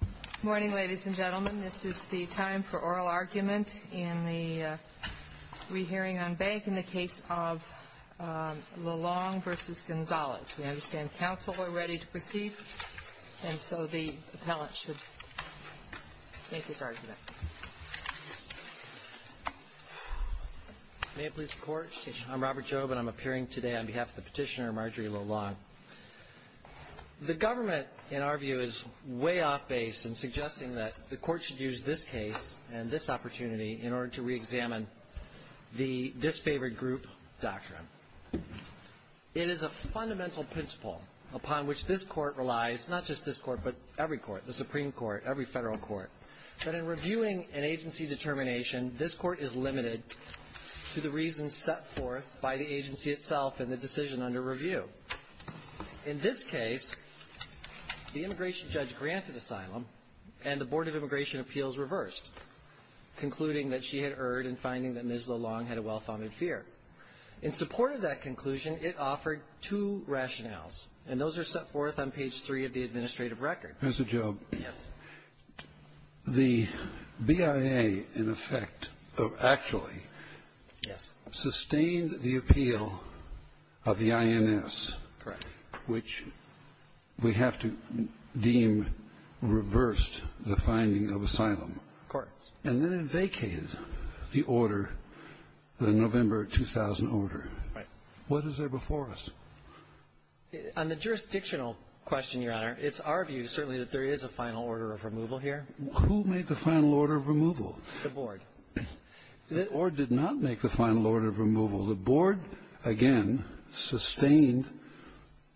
Good morning, ladies and gentlemen. This is the time for oral argument in the re-hearing on bank in the case of Lilong v. Gonzales. We understand counsel are ready to proceed, and so the appellant should make his argument. May it please the Court, I'm Robert Job and I'm appearing today on behalf of the petitioner Marjorie Lilong. Ms. Lilong, the government, in our view, is way off base in suggesting that the Court should use this case and this opportunity in order to reexamine the Disfavored Group Doctrine. It is a fundamental principle upon which this Court relies, not just this Court, but every Court, the Supreme Court, every Federal Court, that in reviewing an agency determination, this Court is limited to the reasons set forth by the agency itself in the decision under review. In this case, the immigration judge granted asylum, and the Board of Immigration Appeals reversed, concluding that she had erred in finding that Ms. Lilong had a well-founded fear. In support of that conclusion, it offered two rationales. And those are set forth on page 3 of the administrative record. Mr. Job, the BIA, in effect, actually, sustained the appeal of the INS, which we have to deem reversed the finding of asylum, and then it vacated the order, the November 2000 order. What is there before us? On the jurisdictional question, Your Honor, it's our view, certainly, that there is a final order of removal here. Who made the final order of removal? The Board. Or did not make the final order of removal. The Board, again, sustained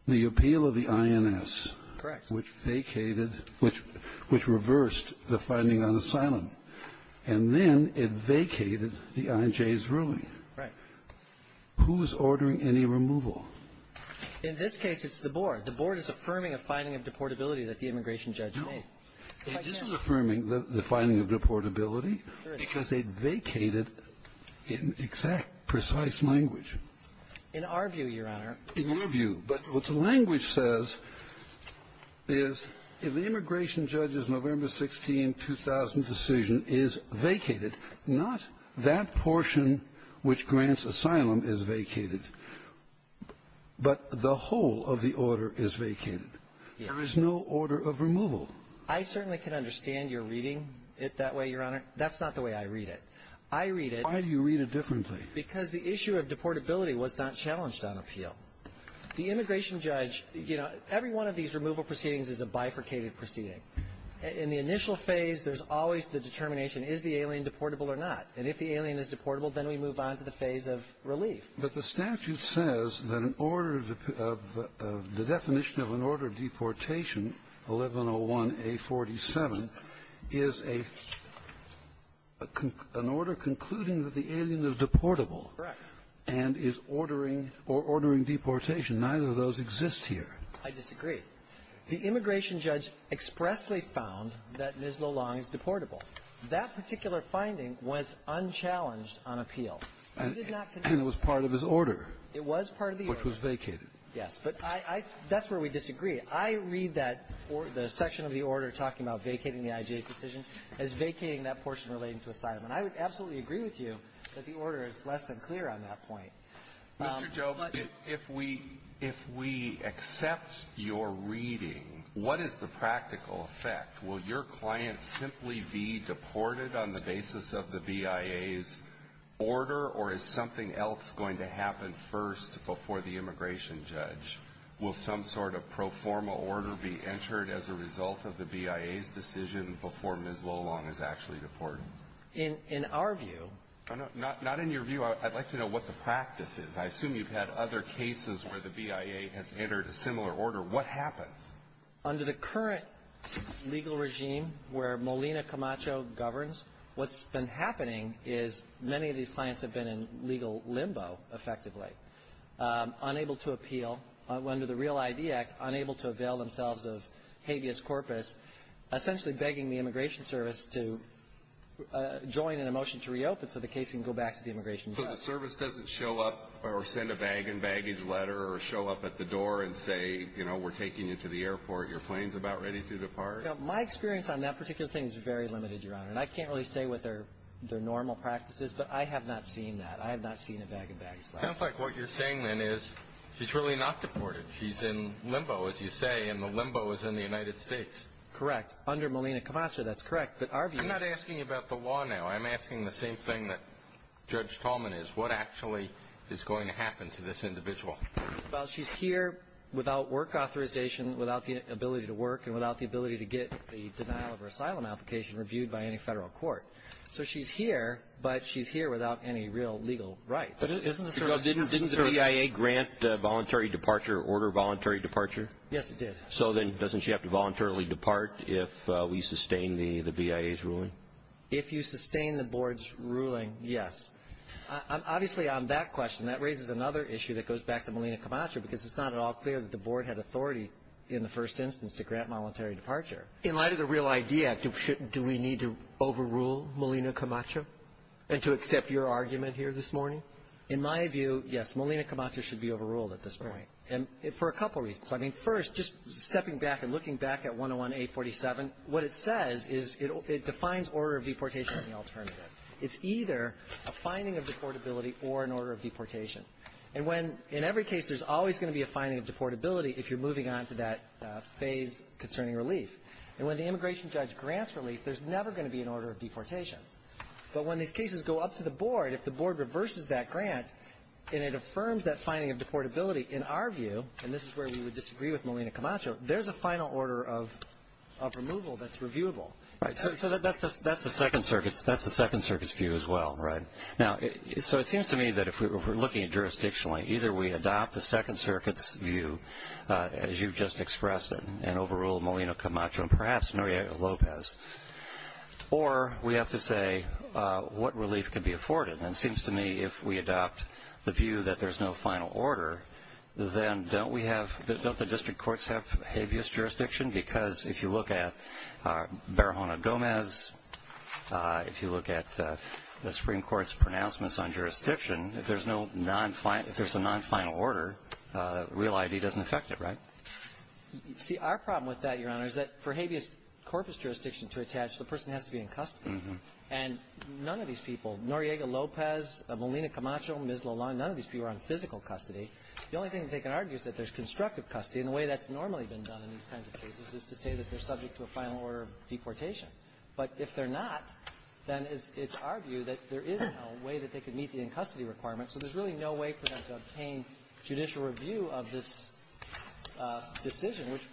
the appeal of the INS. Correct. Which vacated, which reversed the finding on asylum. And then it vacated the INJ's ruling. Right. Who is ordering any removal? In this case, it's the Board. The Board is affirming a finding of deportability that the immigration judge made. No. It isn't affirming the finding of deportability because they vacated in exact, precise language. In our view, Your Honor. In our view. But what the language says is, if the immigration judge's November 16, 2000 decision is vacated, not that portion which grants asylum is vacated, but the whole of the order is vacated, there is no order of removal. I certainly can understand your reading it that way, Your Honor. That's not the way I read it. I read it. Why do you read it differently? Because the issue of deportability was not challenged on appeal. The immigration judge, you know, every one of these removal proceedings is a bifurcated proceeding. In the initial phase, there's always the determination, is the alien deportable or not? And if the alien is deportable, then we move on to the phase of relief. But the statute says that an order of the definition of an order of deportation, 1101A47, is a an order concluding that the alien is deportable. Correct. And is ordering or ordering deportation. Neither of those exist here. I disagree. The immigration judge expressly found that Ms. LoLong is deportable. That particular finding was unchallenged on appeal. We did not convince the judge. And it was part of his order. It was part of the order. Which was vacated. Yes. But I – that's where we disagree. I read that – the section of the order talking about vacating the IJ's decision as vacating that portion relating to asylum. And I would absolutely agree with you that the order is less than clear on that point. Mr. Jobe, if we – if we accept your reading, what is the practical effect? Will your client simply be deported on the basis of the BIA's order, or is something else going to happen first before the immigration judge? Will some sort of pro forma order be entered as a result of the BIA's decision before Ms. LoLong is actually deported? In our view – Not in your view. I'd like to know what the practice is. I assume you've had other cases where the BIA has entered a similar order. What happens? Under the current legal regime where Molina Camacho governs, what's been happening is many of these clients have been in legal limbo, effectively, unable to appeal under the Real ID Act, unable to avail themselves of habeas corpus, essentially begging the immigration service to join in a motion to reopen so the case can go back to the immigration judge. So the service doesn't show up or send a bag-and-baggage letter or show up at the door and say, you know, we're taking you to the airport, your plane's about ready to depart? My experience on that particular thing is very limited, Your Honor. And I can't really say what their normal practice is, but I have not seen that. I have not seen a bag-and-baggage letter. It sounds like what you're saying, then, is she's really not deported. She's in limbo, as you say, and the limbo is in the United States. Correct. Under Malina Kamatra, that's correct. But our view is — I'm not asking about the law now. I'm asking the same thing that Judge Talman is. What actually is going to happen to this individual? Well, she's here without work authorization, without the ability to work, and without the ability to get the denial of her asylum application reviewed by any federal court. So she's here, but she's here without any real legal rights. But isn't the service — Didn't the BIA grant voluntary departure or order voluntary departure? Yes, it did. So then, doesn't she have to voluntarily depart if we sustain the BIA's ruling? If you sustain the Board's ruling, yes. Obviously, on that question, that raises another issue that goes back to Malina Kamatra, because it's not at all clear that the Board had authority in the first instance to grant voluntary departure. In light of the REAL ID Act, do we need to overrule Malina Kamatra and to accept your argument here this morning? In my view, yes. Malina Kamatra should be overruled at this point, and for a couple reasons. I mean, first, just stepping back and looking back at 101-847, what it says is it defines order of deportation as the alternative. It's either a finding of deportability or an order of deportation. And when — in every case, there's always going to be a finding of deportability if you're moving on to that phase concerning relief. And when the immigration judge grants relief, there's never going to be an order of deportation. But when these cases go up to the Board, if the Board reverses that grant and it affirms that finding of deportability, in our view — and this is where we would disagree with Malina Kamatra — there's a final order of removal that's reviewable. Right. So that's the Second Circuit's view as well, right? Now, so it seems to me that if we're looking at jurisdictionally, either we adopt the Second Circuit's view, as you've just expressed it, and overrule Malina Kamatra and perhaps Maria Lopez, or we have to say what relief can be afforded. And it seems to me if we adopt the view that there's no final order, then don't we have — don't the district courts have habeas jurisdiction? Because if you look at Barahona Gomez, if you look at the Supreme Court's pronouncements on jurisdiction, if there's no non-final — if there's a non-final order, real I.D. doesn't affect it, right? See, our problem with that, Your Honor, is that for habeas corpus jurisdiction to attach, the person has to be in custody. And none of these people, Noriega Lopez, Malina Kamatra, Ms. Lalon, none of these people are on physical custody. The only thing they can argue is that there's constructive custody. And the way that's normally been done in these kinds of cases is to say that they're subject to a final order of deportation. But if they're not, then it's our view that there isn't a way that they can meet the in-custody requirements. So there's really no way for them to obtain judicial review of this decision, which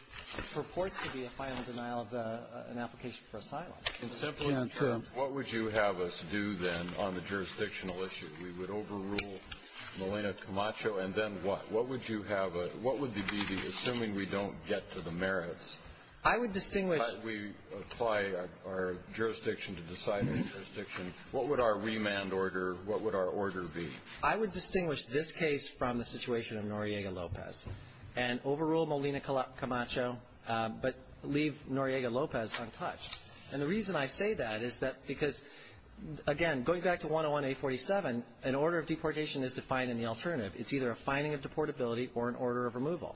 purports to be a final denial of an application for asylum. In simplest terms, what would you have us do, then, on the jurisdictional issue? We would overrule Malina Kamatra, and then what? What would you have a — what would be the — assuming we don't get to the merits, how do we apply our jurisdiction to deciding jurisdiction? What would our remand order — what would our order be? I would distinguish this case from the situation of Noriega Lopez and overrule Malina Kamatra, but leave Noriega Lopez untouched. And the reason I say that is that because, again, going back to 101-847, an order of deportation is defined in the alternative. It's either a fining of deportability or an order of removal.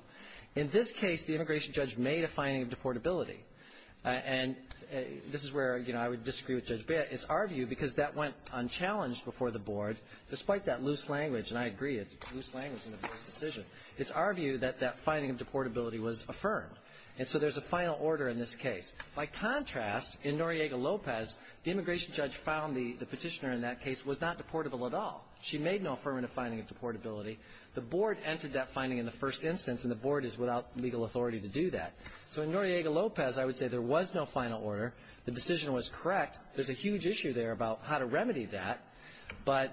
In this case, the immigration judge made a fining of deportability. And this is where, you know, I would disagree with Judge Bea. It's our view, because that went unchallenged before the board, despite that loose language — and I agree, it's a loose language and a loose decision. It's our view that that fining of deportability was affirmed. And so there's a final order in this case. By contrast, in Noriega Lopez, the immigration judge found the petitioner in that case was not deportable at all. She made no affirmative fining of deportability. The board entered that fining in the first instance, and the board is without legal authority to do that. So in Noriega Lopez, I would say there was no final order. The decision was correct. There's a huge issue there about how to remedy that. But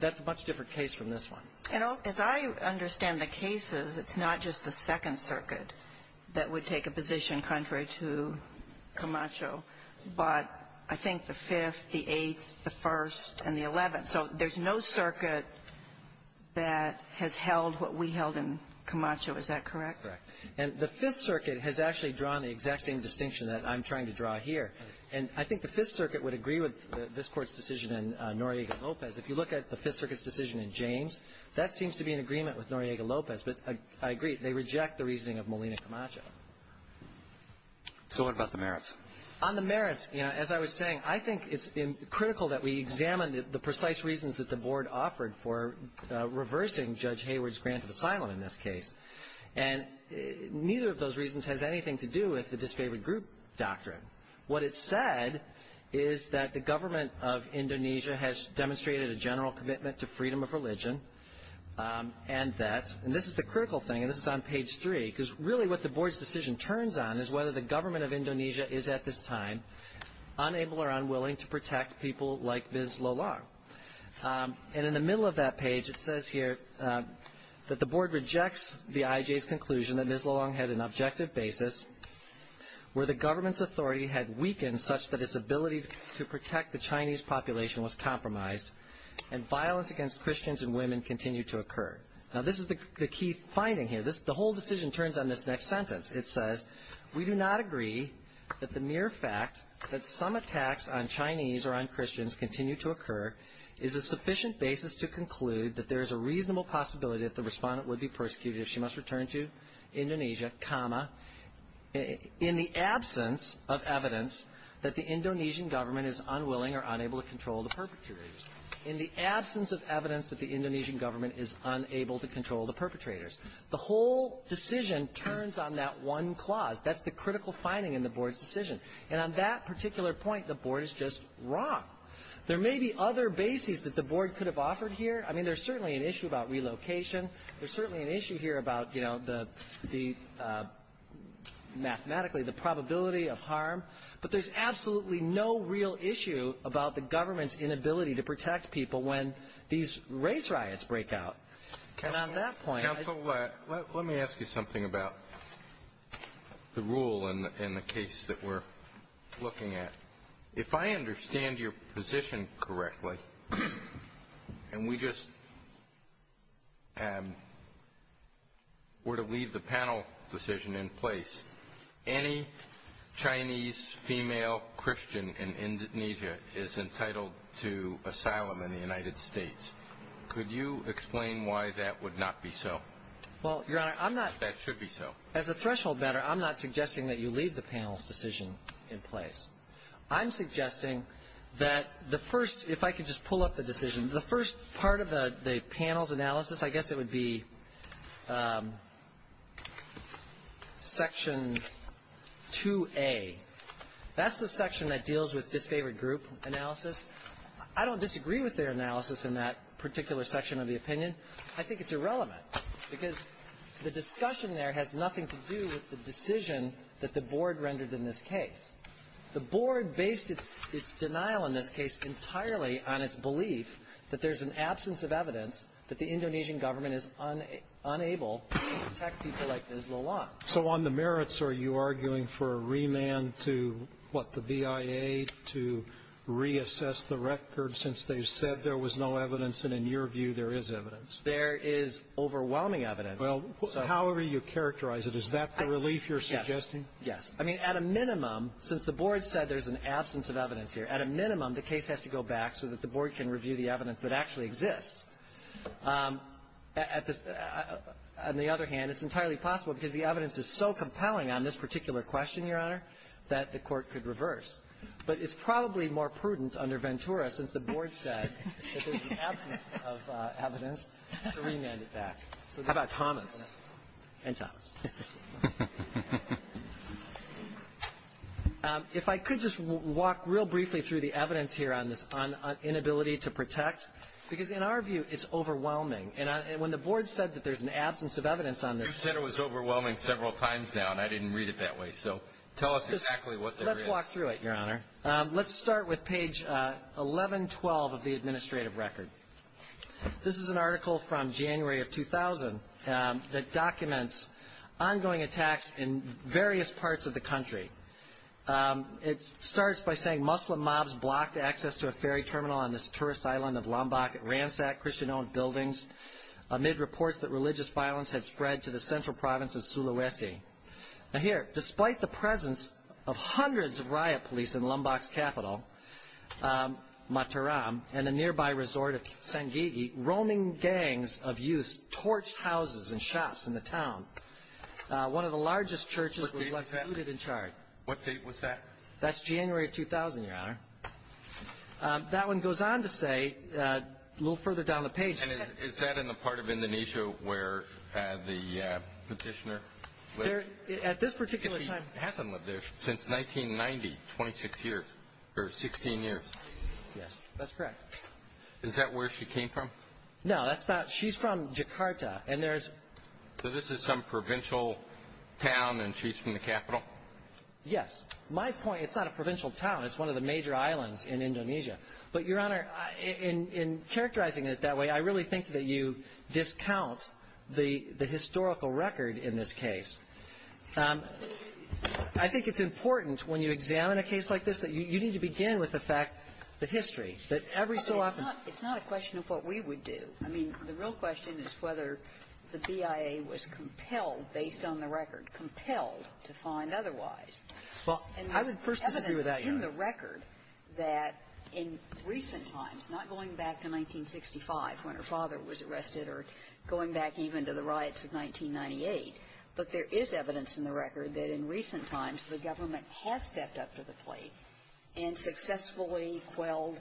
that's a much different case from this one. And as I understand the cases, it's not just the Second Circuit that would take a position contrary to Camacho, but I think the Fifth, the Eighth, the First, and the Eleventh. So there's no circuit that has held what we held in Camacho. Is that correct? Correct. And the Fifth Circuit has actually drawn the exact same distinction that I'm trying to draw here. And I think the Fifth Circuit would agree with this Court's decision in Noriega Lopez. If you look at the Fifth Circuit's decision in James, that seems to be in agreement with Noriega Lopez. But I agree. They reject the reasoning of Molina-Camacho. So what about the merits? On the merits, you know, as I was saying, I think it's critical that we examine the precise reasons that the board offered for reversing Judge Hayward's grant of asylum in this case. And neither of those reasons has anything to do with the disfavored group doctrine. What it said is that the government of Indonesia has demonstrated a general commitment to freedom of religion and that, and this is the critical thing, and this is on page three, because really what the board's decision turns on is whether the government of Indonesia is at this time unable or unwilling to protect people like Ms. Lolong. And in the middle of that page, it says here that the board rejects the IJ's authority had weakened such that its ability to protect the Chinese population was compromised and violence against Christians and women continued to occur. Now, this is the key finding here. The whole decision turns on this next sentence. It says, we do not agree that the mere fact that some attacks on Chinese or on Christians continue to occur is a sufficient basis to conclude that there is a reasonable possibility that the respondent would be persecuted if she must return to Indonesia, in the absence of evidence, that the Indonesian government is unwilling or unable to control the perpetrators. In the absence of evidence that the Indonesian government is unable to control the perpetrators. The whole decision turns on that one clause. That's the critical finding in the board's decision. And on that particular point, the board is just wrong. There may be other bases that the board could have offered here. I mean, there's certainly an issue about relocation. There's certainly an issue here about, you know, the, the, mathematically, the probability of harm. But there's absolutely no real issue about the government's inability to protect people when these race riots break out. And on that point. Counsel, let, let me ask you something about the rule in, in the case that we're looking at. If I understand your position correctly, and we just were to leave the panel decision in place, any Chinese female Christian in Indonesia is entitled to asylum in the United States. Could you explain why that would not be so? Well, Your Honor, I'm not. That should be so. As a threshold matter, I'm not suggesting that you leave the panel's decision in place. I'm suggesting that the first, if I could just pull up the decision. The first part of the, the panel's analysis, I guess it would be Section 2A. That's the section that deals with disfavored group analysis. I don't disagree with their analysis in that particular section of the opinion. I think it's irrelevant. Because the discussion there has nothing to do with the decision that the board rendered in this case. The board based its, its denial in this case entirely on its belief that there's an absence of evidence that the Indonesian government is unable to protect people like Islawan. So on the merits, are you arguing for a remand to, what, the BIA to reassess the record since they've said there was no evidence, and in your view there is evidence? There is overwhelming evidence. Yes. I mean, at a minimum, since the board said there's an absence of evidence here, at a minimum, the case has to go back so that the board can review the evidence that actually exists. At the, on the other hand, it's entirely possible because the evidence is so compelling on this particular question, Your Honor, that the Court could reverse. But it's probably more prudent under Ventura since the board said that there's an absence of evidence to remand it back. How about Thomas? And Thomas. If I could just walk real briefly through the evidence here on this, on inability to protect, because in our view, it's overwhelming. And when the board said that there's an absence of evidence on this one. You said it was overwhelming several times now, and I didn't read it that way. So tell us exactly what there is. Let's walk through it, Your Honor. Let's start with page 1112 of the administrative record. This is an article from January of 2000 that documents ongoing attacks in various parts of the country. It starts by saying Muslim mobs blocked access to a ferry terminal on this tourist island of Lombok, ransacked Christian-owned buildings amid reports that religious violence had spread to the central province of Sulawesi. Now here, despite the presence of hundreds of riot police in Lombok's capital, Mataram, and the nearby resort of Sangigi, roaming gangs of youths torched houses and shops in the town. One of the largest churches was left looted and charred. What date was that? That's January of 2000, Your Honor. That one goes on to say, a little further down the page. And is that in the part of Indonesia where the petitioner lived? At this particular time. Hasn't lived there since 1990, 26 years, or 16 years. Yes, that's correct. Is that where she came from? No, that's not. She's from Jakarta, and there's. So this is some provincial town, and she's from the capital? Yes. My point, it's not a provincial town. It's one of the major islands in Indonesia. But, Your Honor, in characterizing it that way, I really think that you discount the historical record in this case. I think it's important when you examine a case like this that you need to begin with the fact, the history, that every so often. It's not a question of what we would do. I mean, the real question is whether the BIA was compelled, based on the record, compelled to find otherwise. Well, I would first disagree with that, Your Honor. And there's evidence in the record that in recent times, not going back to 1965 when her father was arrested or going back even to the riots of 1998, but there is evidence in the record that in recent times, the government has stepped up to the plate and successfully quelled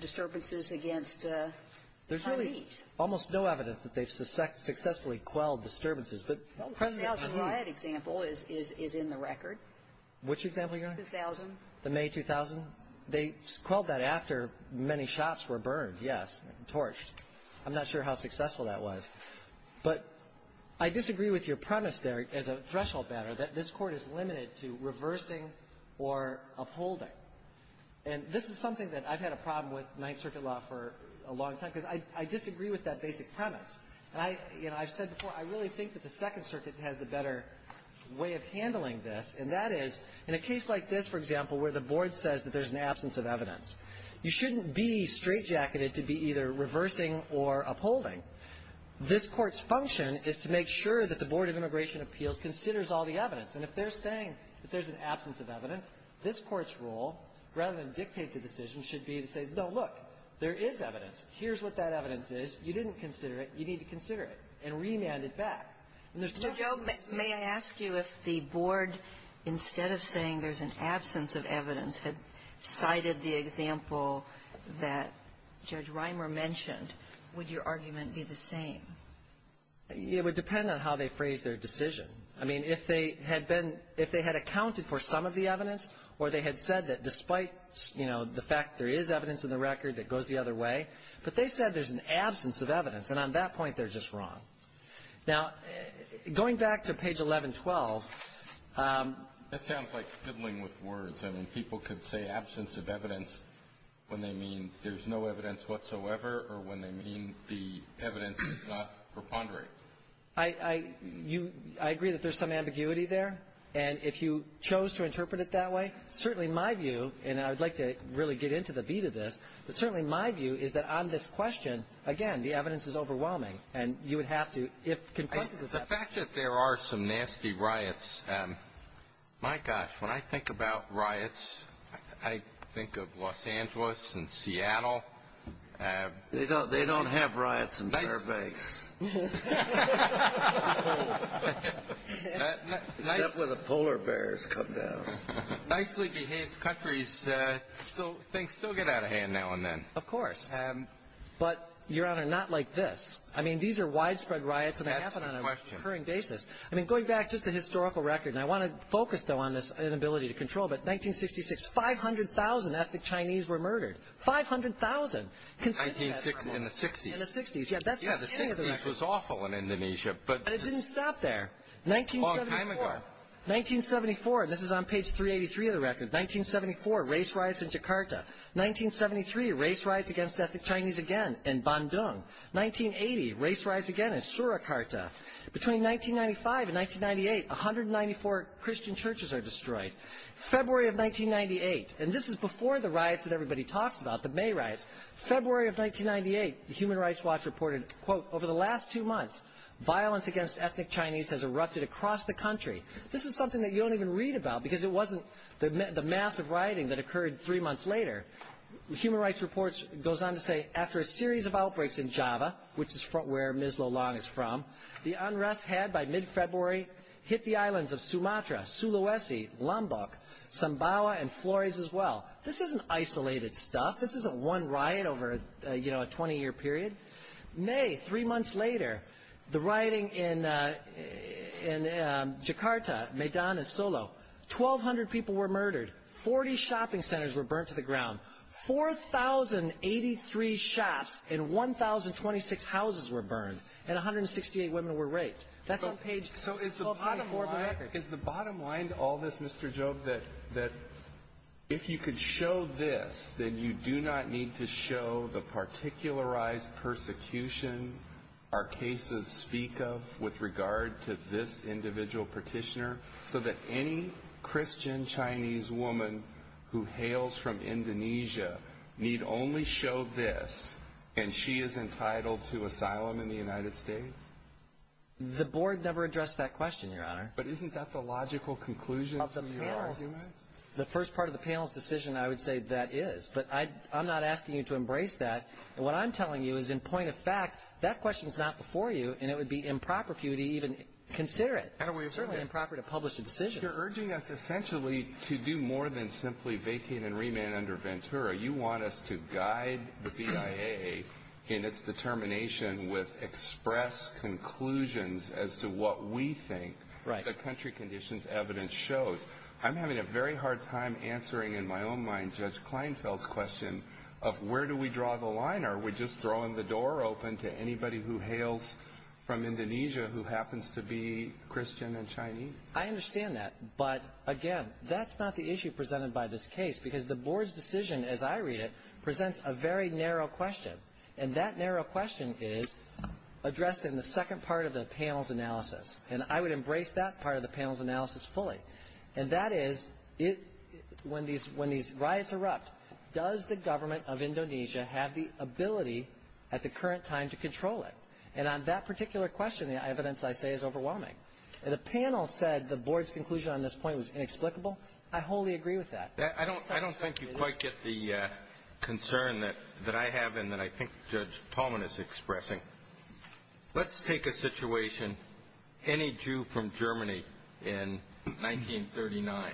disturbances against the Chinese. There's really almost no evidence that they've successfully quelled disturbances. But, President, I mean — Well, the 2000 riot example is in the record. Which example, Your Honor? 2000. The May 2000? They quelled that after many shops were burned, yes, torched. I'm not sure how successful that was. But I disagree with your premise there as a threshold banner that this Court is limited to reversing or upholding. And this is something that I've had a problem with Ninth Circuit law for a long time, because I disagree with that basic premise. And I've said before, I really think that the Second Circuit has a better way of handling this, and that is, in a case like this, for example, where the Board says that there's an absence of evidence, you shouldn't be straightjacketed to be either reversing or upholding. This Court's function is to make sure that the Board of Immigration Appeals considers all the evidence. And if they're saying that there's an absence of evidence, this Court's role, rather than dictate the decision, should be to say, no, look, there is evidence. Here's what that evidence is. You didn't consider it. You need to consider it and remand it back. And there's stuff that's missing. Mr. Joe, may I ask you if the Board, instead of saying there's an absence of evidence, had cited the example that Judge Reimer mentioned, would your argument be the same? It would depend on how they phrased their decision. I mean, if they had been — if they had accounted for some of the evidence or they had said that despite, you know, the fact there is evidence in the record that goes the other way, but they said there's an absence of evidence, and on that point, they're just wrong. Now, going back to page 1112 — That sounds like fiddling with words. I mean, people could say absence of evidence when they mean there's no evidence whatsoever or when they mean the evidence does not preponderate. I — I — you — I agree that there's some ambiguity there. And if you chose to interpret it that way, certainly my view, and I would like to really get into the beat of this, but certainly my view is that on this question, again, the evidence is overwhelming. And you would have to, if confronted with that — The fact that there are some nasty riots, my gosh, when I think about riots, I think of Los Angeles and Seattle. They don't — they don't have riots in Fairbanks. Except where the polar bears come down. Nicely behaved countries, things still get out of hand now and then. Of course. But, Your Honor, not like this. I mean, these are widespread riots and they happen on a recurring basis. I mean, going back just to historical record, and I want to focus, though, on this inability to control, but 1966, 500,000 ethnic Chinese were murdered. 500,000. In the 60s. In the 60s. Yeah, the 60s was awful in Indonesia. But it didn't stop there. 1974. 1974. This is on page 383 of the record. 1974, race riots in Jakarta. 1973, race riots against ethnic Chinese again in Bandung. 1980, race riots again in Surakarta. Between 1995 and 1998, 194 Christian churches are destroyed. February of 1998, and this is before the riots that everybody talks about, the May riots. February of 1998, the Human Rights Watch reported, quote, over the last two months, violence against ethnic Chinese has erupted across the country. This is something that you don't even read about because it wasn't the massive rioting that occurred three months later. Human Rights Reports goes on to say, after a series of outbreaks in Java, which is where Ms. Lo Long is from, the unrest had by mid-February hit the islands of Sumatra, Sulawesi, Lombok, Sambawa, and Flores as well. This isn't isolated stuff. This isn't one riot over, you know, a 20-year period. May, three months later, the rioting in Jakarta, Medan, and Solo. 1,200 people were murdered. 40 shopping centers were burnt to the ground. 4,083 shops and 1,026 houses were burned, and 168 women were raped. That's on page 1224 of the record. Is the bottom line to all this, Mr. Job, that if you could show this, then you do not need to show the particularized persecution our cases speak of with regard to this individual petitioner, so that any Christian Chinese woman who hails from Indonesia need only show this, and she is entitled to asylum in the United States? The board never addressed that question, Your Honor. But isn't that the logical conclusion from your argument? The first part of the panel's decision, I would say that is, but I'm not asking you to embrace that. And what I'm telling you is, in point of fact, that question's not before you, and it would be improper for you to even consider it. And it would certainly be improper to publish a decision. You're urging us, essentially, to do more than simply vacate and remand under Ventura. You want us to guide the BIA in its determination with express conclusions as to what we think the country conditions evidence shows. I'm having a very hard time answering, in my own mind, Judge Kleinfeld's question of where do we draw the line? Are we just throwing the door open to anybody who hails from Indonesia who happens to be Christian and Chinese? I understand that. But again, that's not the issue presented by this case, because the board's decision, as I read it, presents a very narrow question. And that narrow question is addressed in the second part of the panel's analysis. And I would embrace that part of the panel's analysis fully. And that is, when these riots erupt, does the government of Indonesia have the ability at the current time to control it? And on that particular question, the evidence, I say, is overwhelming. And the panel said the board's conclusion on this point was inexplicable. I wholly agree with that. I don't think you quite get the concern that I have and that I think Judge Tallman is expressing. Let's take a situation, any Jew from Germany in 1939.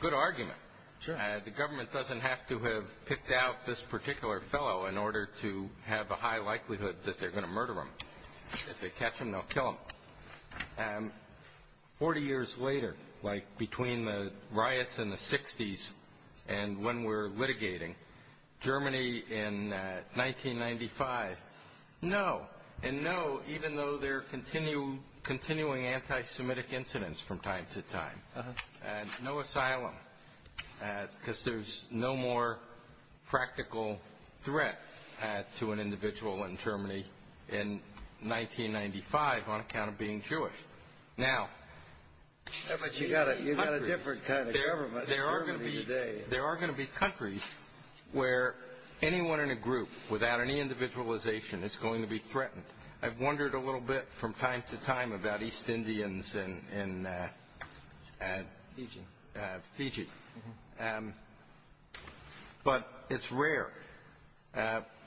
Good argument. The government doesn't have to have picked out this particular fellow in order to murder him. If they catch him, they'll kill him. Forty years later, like between the riots in the 60s and when we're litigating, Germany in 1995, no and no, even though there are continuing anti-Semitic incidents from time to time. No asylum, because there's no more practical threat to an individual in Germany in 1995 on account of being Jewish. Now, you've got a different kind of government than Germany today. There are going to be countries where anyone in a group without any individualization is going to be threatened. I've wondered a little bit from time to time about East Indians in Fiji. But it's rare.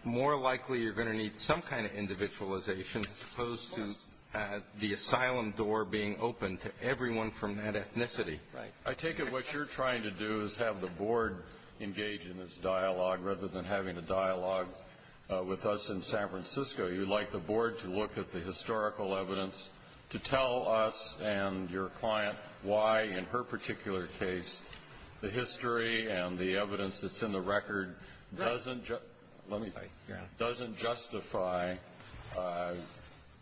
More likely you're going to need some kind of individualization as opposed to the asylum door being open to everyone from that ethnicity. Right. I take it what you're trying to do is have the Board engage in this dialogue rather than having a dialogue with us in San Francisco. You'd like the Board to look at the historical evidence to tell us and your client why, in her particular case, the history and the evidence that's in the record doesn't just let me say, yeah, doesn't justify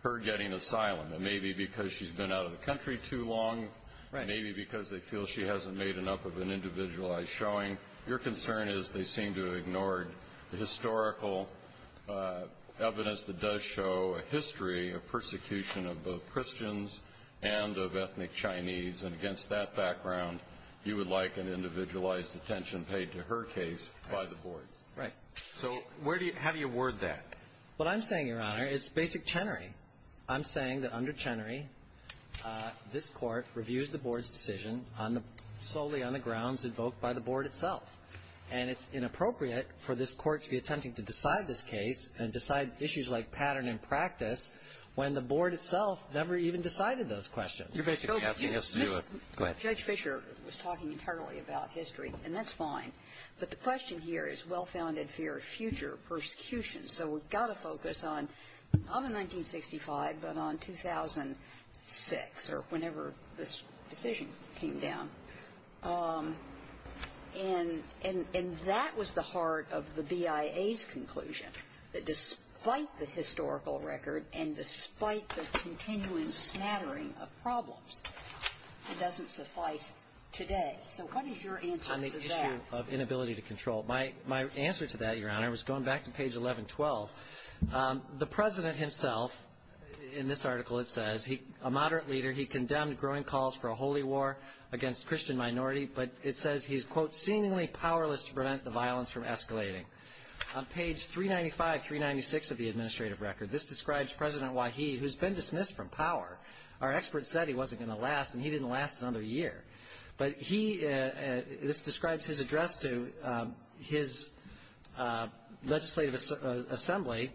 her getting asylum and maybe because she's been out of the country too long, maybe because they feel she hasn't made enough of an individualized showing. Your concern is they seem to have ignored the historical evidence that does show a persecution of both Christians and of ethnic Chinese. And against that background, you would like an individualized attention paid to her case by the Board. Right. So where do you have you word that? What I'm saying, Your Honor, is basic Chenery. I'm saying that under Chenery, this Court reviews the Board's decision on the solely on the grounds invoked by the Board itself. And it's inappropriate for this Court to be attempting to decide this case and decide issues like pattern and practice when the Board itself never even decided those questions. You're basically asking us to do a go ahead. Judge Fischer was talking entirely about history, and that's fine. But the question here is well-founded fear of future persecution. So we've got to focus on not on 1965, but on 2006 or whenever this decision came down. And that was the heart of the BIA's conclusion, that despite the historical record and despite the continuing smattering of problems, it doesn't suffice today. So what is your answer to that? On the issue of inability to control. My answer to that, Your Honor, was going back to page 1112. The President himself, in this article it says, a moderate leader, he condemned growing calls for a holy war against Christian minority. But it says he's, quote, seemingly powerless to prevent the violence from escalating. On page 395, 396 of the administrative record, this describes President Waheed, who's been dismissed from power. Our expert said he wasn't going to last, and he didn't last another year. But he, this describes his address to his legislative assembly,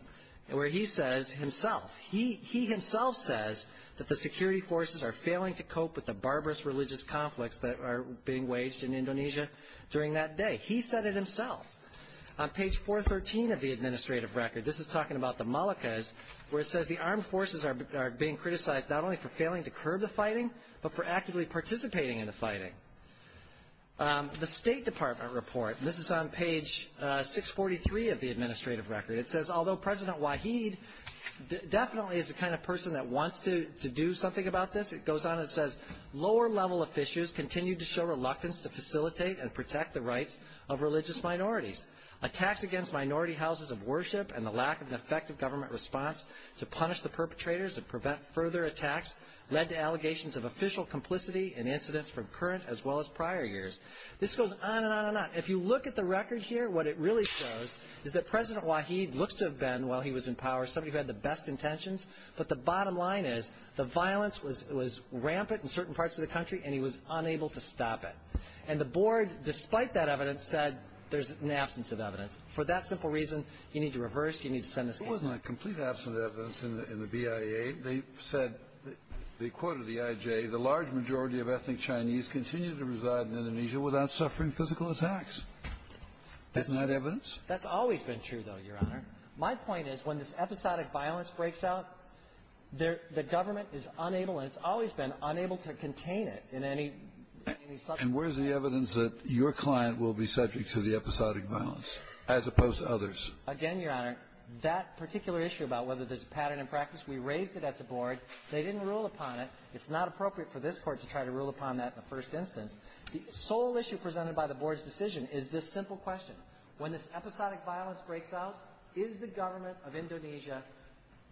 where he says himself, he himself says that the security forces are failing to cope with the barbarous religious conflicts that are being waged in Indonesia during that day. He said it himself. On page 413 of the administrative record, this is talking about the Malakas, where it says the armed forces are being criticized not only for failing to curb the fighting, but for actively participating in the fighting. The State Department report, and this is on page 643 of the administrative record, it says, although President Waheed definitely is the kind of person that wants to do something about this, it goes on and says, lower level officials continue to show reluctance to facilitate and protect the rights of religious minorities. Attacks against minority houses of worship and the lack of an effective government response to punish the perpetrators and prevent further attacks led to allegations of official complicity and incidents from current as well as prior years. This goes on and on and on. If you look at the record here, what it really shows is that President Waheed looks to have been, while he was in power, somebody who had the best intentions. But the bottom line is the violence was rampant in certain parts of the country and he was unable to stop it. And the board, despite that evidence, said there's an absence of evidence. For that simple reason, you need to reverse. You need to send this case. It wasn't a complete absence of evidence in the BIA. They said, they quoted the IJ, the large majority of ethnic Chinese continue to reside in Indonesia without suffering physical attacks. Isn't that evidence? That's always been true, though, Your Honor. My point is, when this episodic violence breaks out, the government is unable, and it's always been, unable to contain it in any subject. And where's the evidence that your client will be subject to the episodic violence as opposed to others? Again, Your Honor, that particular issue about whether there's a pattern in practice, we raised it at the board. They didn't rule upon it. It's not appropriate for this Court to try to rule upon that in the first instance. The sole issue presented by the board's decision is this simple question. When this episodic violence breaks out, is the government of Indonesia,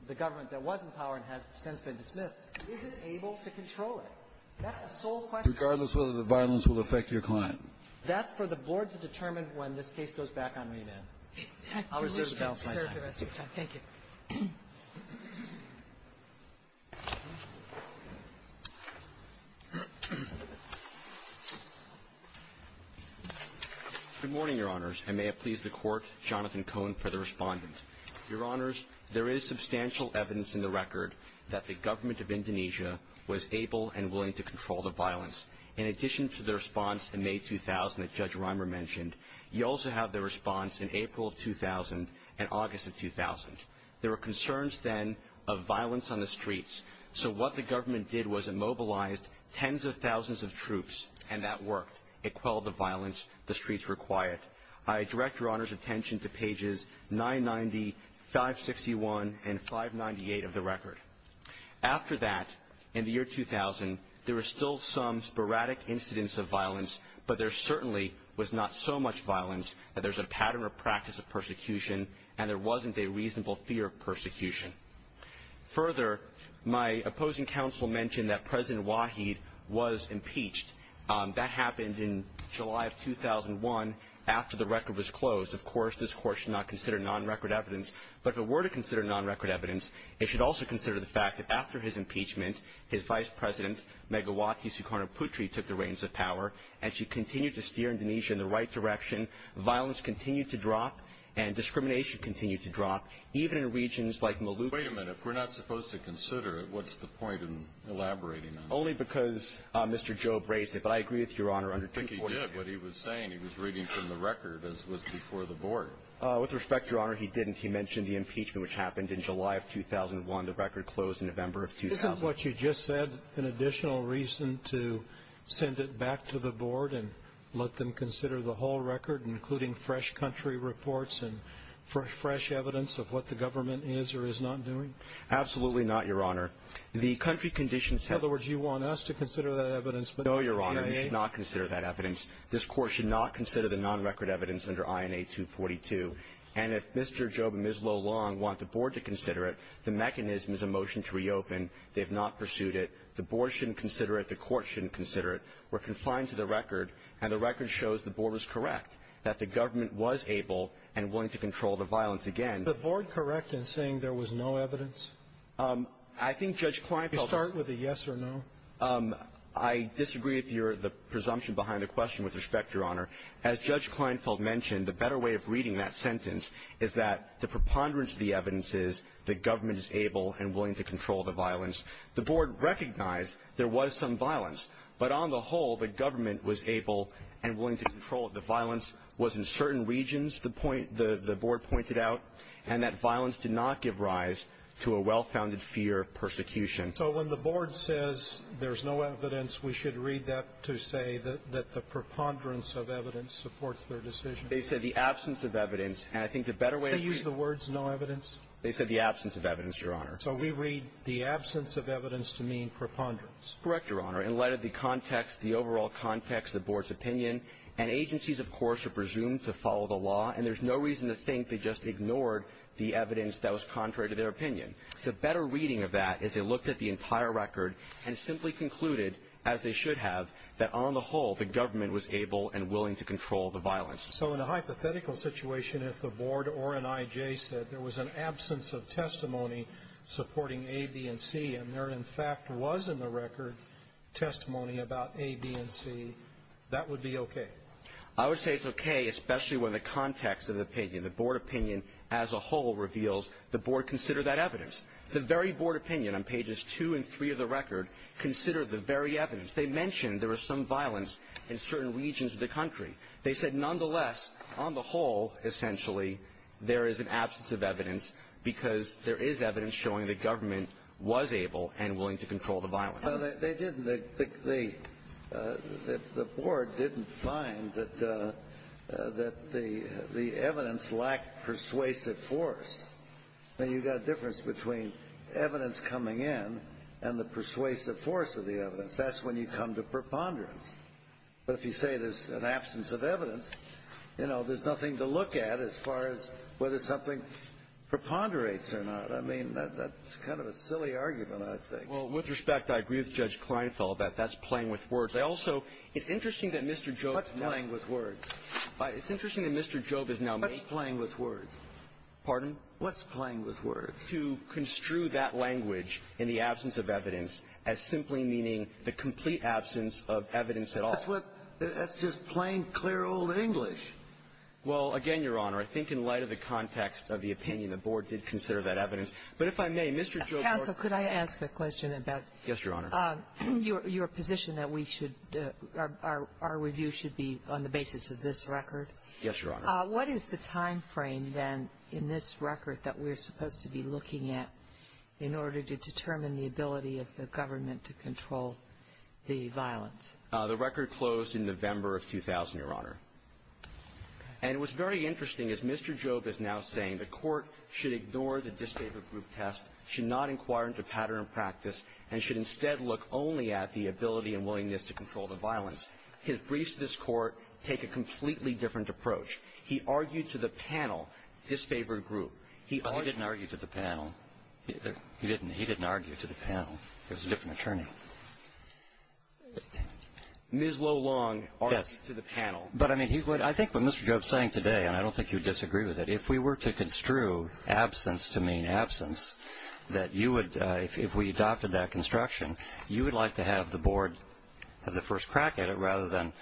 the government that was in power and has since been dismissed, is it able to control it? That's the sole question. Regardless of whether the violence will affect your client. That's for the board to determine when this case goes back on re-event. I'll reserve the balance of my time. Thank you. Good morning, Your Honors, and may it please the Court, Jonathan Cohen for the respondent. Your Honors, there is substantial evidence in the record that the government of Indonesia was able and willing to control the violence. In addition to the response in May 2000 that Judge Rimer mentioned, you also have the response in April of 2000 and August of 2000. There were concerns then of violence on the streets, so what the government did was it mobilized tens of thousands of troops, and that worked. It quelled the violence. The streets were quiet. I direct Your Honors' attention to pages 990, 561, and 598 of the record. After that, in the year 2000, there were still some sporadic incidents of violence, but there was no apparent practice of persecution, and there wasn't a reasonable fear of persecution. Further, my opposing counsel mentioned that President Wahid was impeached. That happened in July of 2001 after the record was closed. Of course, this Court should not consider non-record evidence, but if it were to consider non-record evidence, it should also consider the fact that after his impeachment, his Vice President Megawati Sukarno Putri took the reins of power, and she continued to steer Indonesia in the right direction. Violence continued to drop, and discrimination continued to drop, even in regions like Maluku. Wait a minute. If we're not supposed to consider it, what's the point in elaborating on it? Only because Mr. Job raised it, but I agree with Your Honor under 2.2. I think he did. What he was saying, he was reading from the record, as was before the Board. With respect, Your Honor, he didn't. He mentioned the impeachment, which happened in July of 2001. The record closed in November of 2000. Isn't what you just said an additional reason to send it back to the Board and let them consider the whole record, including fresh country reports and fresh evidence of what the government is or is not doing? Absolutely not, Your Honor. The country conditions have been – In other words, you want us to consider that evidence, but not the INA? No, Your Honor. It should not consider that evidence. This Court should not consider the non-record evidence under INA 242. And if Mr. Job and Ms. Lo Long want the Board to consider it, the mechanism is a motion to reopen. They have not pursued it. The Board shouldn't consider it. The Court shouldn't consider it. The record shows the Board was correct, that the government was able and willing to control the violence again. Is the Board correct in saying there was no evidence? I think Judge Kleinfeld – You start with a yes or no. I disagree with your – the presumption behind the question. With respect, Your Honor, as Judge Kleinfeld mentioned, the better way of reading that sentence is that the preponderance of the evidence is the government is able and willing to control the violence. The Board recognized there was some violence. But on the whole, the government was able and willing to control it. The violence was in certain regions, the point – the Board pointed out, and that violence did not give rise to a well-founded fear of persecution. So when the Board says there's no evidence, we should read that to say that the preponderance of evidence supports their decision? They said the absence of evidence. And I think the better way of reading – Did they use the words no evidence? They said the absence of evidence, Your Honor. So we read the absence of evidence to mean preponderance. Correct, Your Honor. In light of the context, the overall context, the Board's opinion, and agencies, of course, are presumed to follow the law, and there's no reason to think they just ignored the evidence that was contrary to their opinion. The better reading of that is they looked at the entire record and simply concluded, as they should have, that on the whole, the government was able and willing to control the violence. So in a hypothetical situation, if the Board or an I.J. said there was an absence of testimony supporting A, B, and C, and there, in fact, was in the record testimony about A, B, and C, that would be okay? I would say it's okay, especially when the context of the opinion, the Board opinion as a whole, reveals the Board considered that evidence. The very Board opinion on pages 2 and 3 of the record considered the very evidence. They mentioned there was some violence in certain regions of the country. They said, nonetheless, on the whole, essentially, there is an absence of evidence because there is evidence showing the government was able and willing to control the violence. They didn't. The Board didn't find that the evidence lacked persuasive force. I mean, you've got a difference between evidence coming in and the persuasive force of the evidence. That's when you come to preponderance. But if you say there's an absence of evidence, you know, there's nothing to look at as far as whether something preponderates or not. I mean, that's kind of a silly argument, I think. Well, with respect, I agree with Judge Kleinfeld that that's playing with words. I also — it's interesting that Mr. Jobe is now — What's playing with words? It's interesting that Mr. Jobe is now — What's playing with words? Pardon? What's playing with words? — to construe that language in the absence of evidence as simply meaning the complete absence of evidence at all. That's what — that's just plain, clear, old English. Well, again, Your Honor, I think in light of the context of the opinion, the Board did consider that evidence. But if I may, Mr. Jobe — Counsel, could I ask a question about — Yes, Your Honor. — your position that we should — our review should be on the basis of this record? Yes, Your Honor. What is the timeframe, then, in this record that we're supposed to be looking at in order to determine the ability of the government to control the violence? The record closed in November of 2000, Your Honor. And it was very interesting, as Mr. Jobe is now saying, the Court should ignore the disfavored group test, should not inquire into pattern and practice, and should instead look only at the ability and willingness to control the violence. His briefs to this Court take a completely different approach. He argued to the panel, disfavored group. He argued — He didn't argue to the panel. He didn't. He didn't argue to the panel. It was a different attorney. But it's — Ms. Lo Long argued to the panel. But, I mean, he would — I think what Mr. Jobe is saying today, and I don't think you would disagree with it, if we were to construe absence to mean absence, that you would — if we adopted that construction, you would like to have the Board have the first crack at it rather than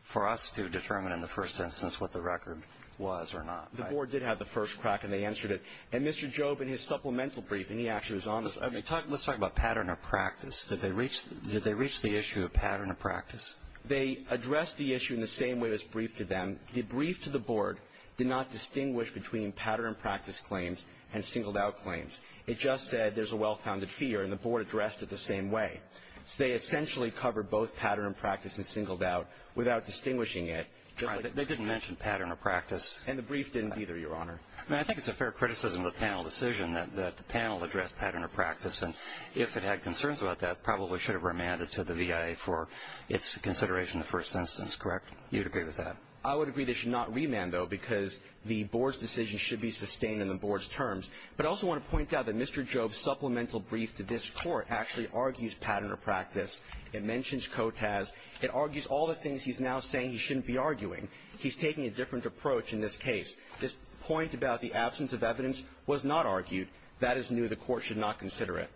for us to determine in the first instance what the record was or not, right? The Board did have the first crack, and they answered it. And Mr. Jobe, in his supplemental briefing — he actually was on this — I mean, let's talk about pattern of practice. Did they reach — did they reach the issue of pattern of practice? They addressed the issue in the same way as briefed to them. The brief to the Board did not distinguish between pattern of practice claims and singled-out claims. It just said there's a well-founded fear, and the Board addressed it the same way. So they essentially covered both pattern of practice and singled-out without distinguishing it, just like — They didn't mention pattern of practice. And the brief didn't either, Your Honor. I mean, I think it's a fair criticism of the panel decision that the panel addressed pattern of practice. And if it had concerns about that, probably should have remanded to the V.I.A. for its consideration in the first instance, correct? You'd agree with that? I would agree they should not remand, though, because the Board's decision should be sustained in the Board's terms. But I also want to point out that Mr. Jobe's supplemental brief to this Court actually argues pattern of practice. It mentions COTAS. It argues all the things he's now saying he shouldn't be arguing. He's taking a different approach in this case. This point about the absence of evidence was not argued. That is new. The Court should not consider it.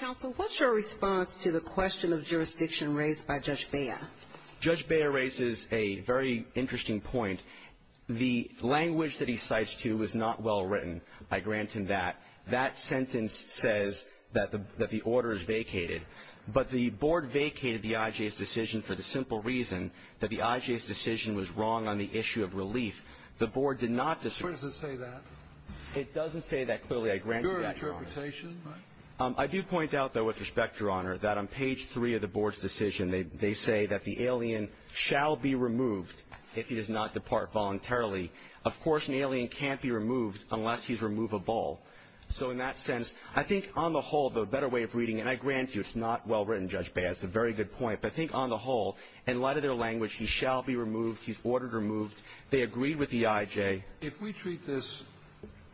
Counsel, what's your response to the question of jurisdiction raised by Judge Bea? Judge Bea raises a very interesting point. The language that he cites, too, is not well written. I grant him that. That sentence says that the — that the order is vacated. But the Board vacated the I.J.'s decision for the simple reason that the I.J.'s decision was wrong on the issue of relief. The Board did not — Where does it say that? It doesn't say that clearly. I grant you that, Your Honor. Your interpretation, right? I do point out, though, with respect, Your Honor, that on page 3 of the Board's decision, they say that the alien shall be removed if he does not depart voluntarily. Of course, an alien can't be removed unless he's removable. So in that sense, I think, on the whole, the better way of reading — and I grant you, it's not well written, Judge Bea. That's a very good point. But I think, on the whole, in light of their language, he shall be removed. He's ordered removed. They agreed with the I.J. If we treat this,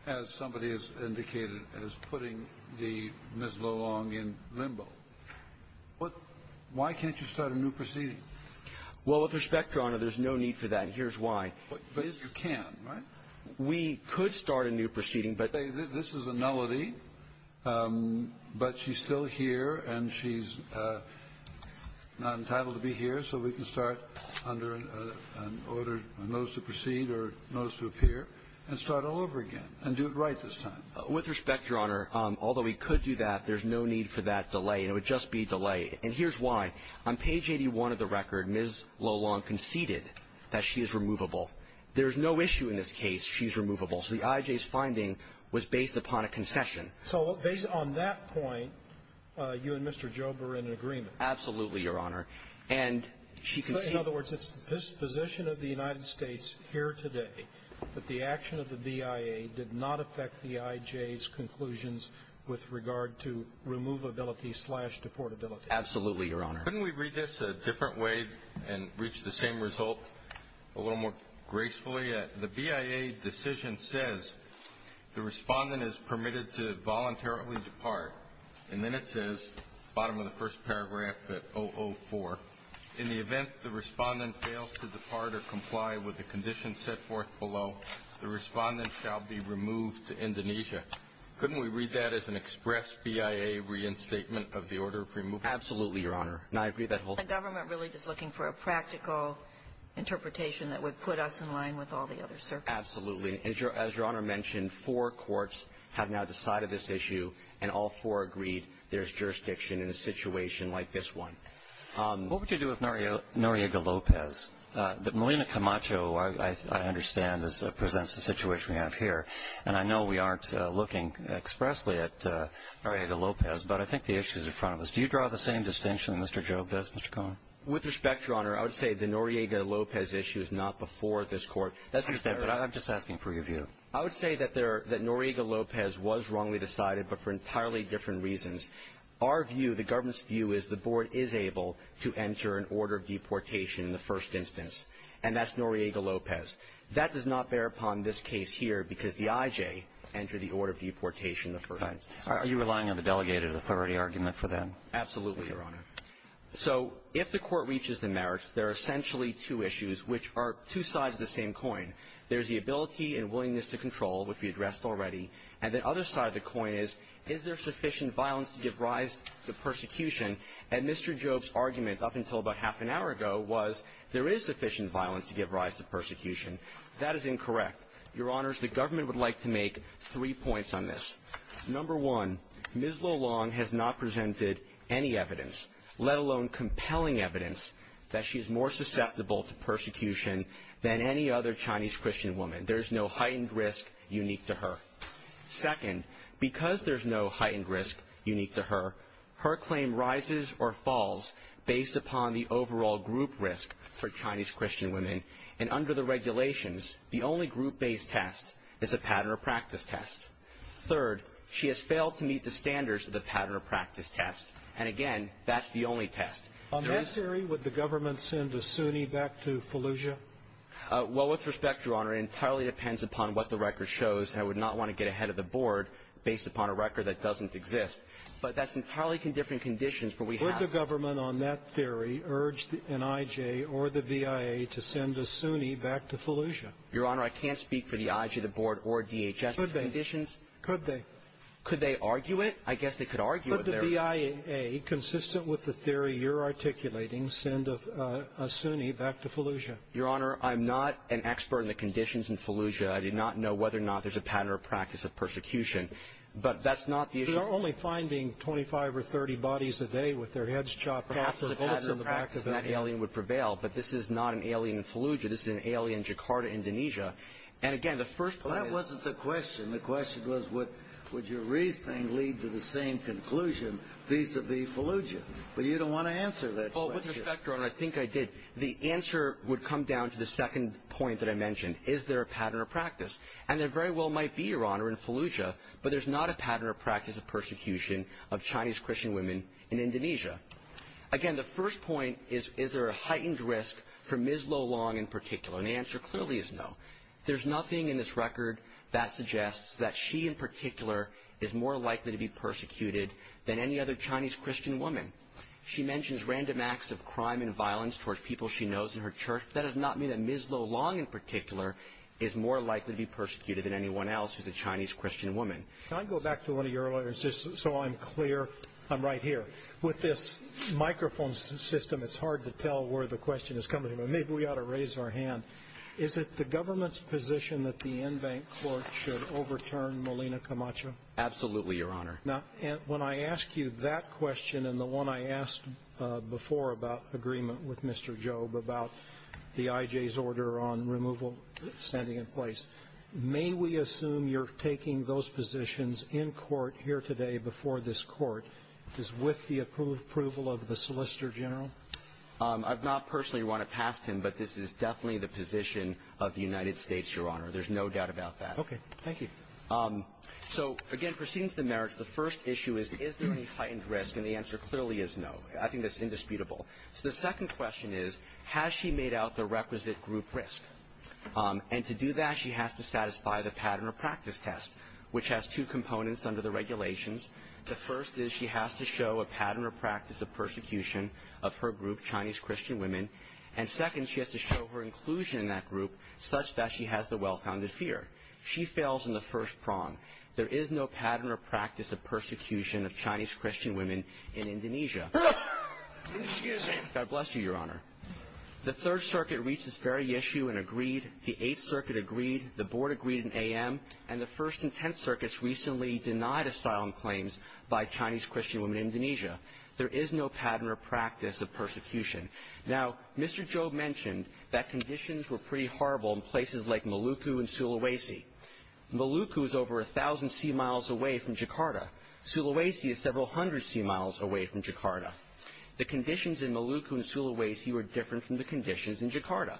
as somebody has indicated, as putting Ms. LoLong in limbo, why can't you start a new proceeding? Well, with respect, Your Honor, there's no need for that. Here's why. But you can, right? We could start a new proceeding, but — This is a nullity. But she's still here, and she's not entitled to be here. So we can start under an order, a notice to proceed or notice to appear, and start all over again and do it right this time. With respect, Your Honor, although we could do that, there's no need for that delay, and it would just be a delay. And here's why. On page 81 of the record, Ms. LoLong conceded that she is removable. There's no issue in this case. She's removable. So the I.J.'s finding was based upon a concession. So based on that point, you and Mr. Jobe are in agreement. Absolutely, Your Honor. And she conceded — In other words, it's the disposition of the United States here today that the action of the BIA did not affect the I.J.'s conclusions with regard to removability slash deportability. Absolutely, Your Honor. Couldn't we read this a different way and reach the same result a little more gracefully? The BIA decision says the respondent is permitted to voluntarily depart, and then it says, bottom of the first paragraph, that 004. In the event the respondent fails to depart or comply with the conditions set forth below, the respondent shall be removed to Indonesia. Couldn't we read that as an express BIA reinstatement of the order of removal? Absolutely, Your Honor. And I agree that whole — The government really is looking for a practical interpretation that would put us in line with all the other circuits. Absolutely. And as Your Honor mentioned, four courts have now decided this issue, and all four agreed there's jurisdiction in a situation like this one. What would you do with Noriega-Lopez? Melina Camacho, I understand, presents the situation we have here. And I know we aren't looking expressly at Noriega-Lopez, but I think the issue is in front of us. Do you draw the same distinction that Mr. Jobe does, Mr. Cohen? With respect, Your Honor, I would say the Noriega-Lopez issue is not before this court. That's just it, but I'm just asking for your view. I would say that Noriega-Lopez was wrongly decided, but for entirely different reasons. Our view, the government's view, is the board is able to enter an order of deportation in the first instance, and that's Noriega-Lopez. That does not bear upon this case here because the I.J. entered the order of deportation in the first instance. Are you relying on the delegated authority argument for that? Absolutely, Your Honor. So if the court reaches the merits, there are essentially two issues, which are two sides of the same coin. There's the ability and willingness to control, which we addressed already. And the other side of the coin is, is there sufficient violence to give rise to persecution? And Mr. Jobe's argument up until about half an hour ago was, there is sufficient violence to give rise to persecution. That is incorrect. Your Honors, the government would like to make three points on this. Number one, Ms. Lo Long has not presented any evidence, let alone compelling evidence, that she is more susceptible to persecution than any other Chinese Christian woman. There is no heightened risk unique to her. Second, because there's no heightened risk unique to her, her claim rises or falls based upon the overall group risk for Chinese Christian women. And under the regulations, the only group-based test is a pattern or practice test. Third, she has failed to meet the standards of the pattern or practice test. And again, that's the only test. On that theory, would the government send a Sunni back to Fallujah? Well, with respect, Your Honor, it entirely depends upon what the record shows. I would not want to get ahead of the board based upon a record that doesn't exist. But that's entirely in different conditions. But we have to – Would the government on that theory urge the NIJ or the VIA to send a Sunni back to Fallujah? Your Honor, I can't speak for the IG, the board, or DHS. Could they? Could they? Could they argue it? I guess they could argue it. Could the VIA, consistent with the theory you're articulating, send a Sunni back to Fallujah? Your Honor, I'm not an expert in the conditions in Fallujah. I do not know whether or not there's a pattern or practice of persecution. But that's not the issue. They're only finding 25 or 30 bodies a day with their heads chopped off for bullets in the back of their heads. But that's the pattern or practice, and that alien would prevail. But this is not an alien in Fallujah. This is an alien in Jakarta, Indonesia. And again, the first point is – Well, that wasn't the question. The question was, would your reasoning lead to the same conclusion vis-a-vis Fallujah? But you don't want to answer that question. Well, with respect, Your Honor, I think I did. The answer would come down to the second point that I mentioned. Is there a pattern or practice? And there very well might be, Your Honor, in Fallujah. But there's not a pattern or practice of persecution of Chinese Christian women in Indonesia. Again, the first point is, is there a heightened risk for Ms. Lo Long in particular? And the answer clearly is no. There's nothing in this record that suggests that she in particular is more likely to be persecuted than any other Chinese Christian woman. She mentions random acts of crime and violence towards people she knows in her church. That does not mean that Ms. Lo Long in particular is more likely to be persecuted than anyone else who's a Chinese Christian woman. Can I go back to one of your letters just so I'm clear? I'm right here. With this microphone system, it's hard to tell where the question is coming from. Maybe we ought to raise our hand. Is it the government's position that the Inbank court should overturn Molina Camacho? Absolutely, Your Honor. Now, when I ask you that question and the one I asked before about agreement with Mr. Job about the IJ's order on removal standing in place, may we assume you're taking those positions in court here today before this Court, which is with the approval of the Solicitor General? I've not personally run it past him, but this is definitely the position of the United States, Your Honor. There's no doubt about that. Okay. Thank you. So, again, proceeding to the merits, the first issue is, is there any heightened risk? And the answer clearly is no. I think that's indisputable. So the second question is, has she made out the requisite group risk? And to do that, she has to satisfy the pattern of practice test, which has two components under the regulations. The first is she has to show a pattern of practice of persecution of her group, Chinese Christian women. And second, she has to show her inclusion in that group such that she has the well-founded fear. She fails in the first prong. There is no pattern or practice of persecution of Chinese Christian women in Indonesia. Excuse me. God bless you, Your Honor. The Third Circuit reached this very issue and agreed. The Eighth Circuit agreed. The Board agreed in AM. And the First and Tenth Circuits recently denied asylum claims by Chinese Christian women in Indonesia. There is no pattern or practice of persecution. Now, Mr. Joe mentioned that conditions were pretty horrible in places like Maluku and Sulawesi. Maluku is over 1,000 sea miles away from Jakarta. Sulawesi is several hundred sea miles away from Jakarta. The conditions in Maluku and Sulawesi were different from the conditions in Jakarta.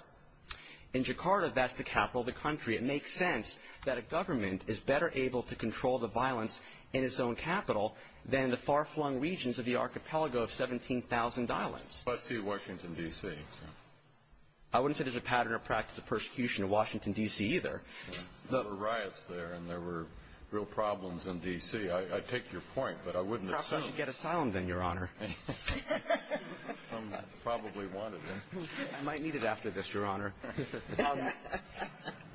In Jakarta, that's the capital of the country. It makes sense that a government is better able to control the violence in its own capital than the far-flung regions of the archipelago of 17,000 islands. Let's see Washington, D.C. I wouldn't say there's a pattern or practice of persecution in Washington, D.C., either. There were riots there, and there were real problems in D.C. I take your point, but I wouldn't assume. How could you get asylum then, Your Honor? Some probably wanted it. I might need it after this, Your Honor.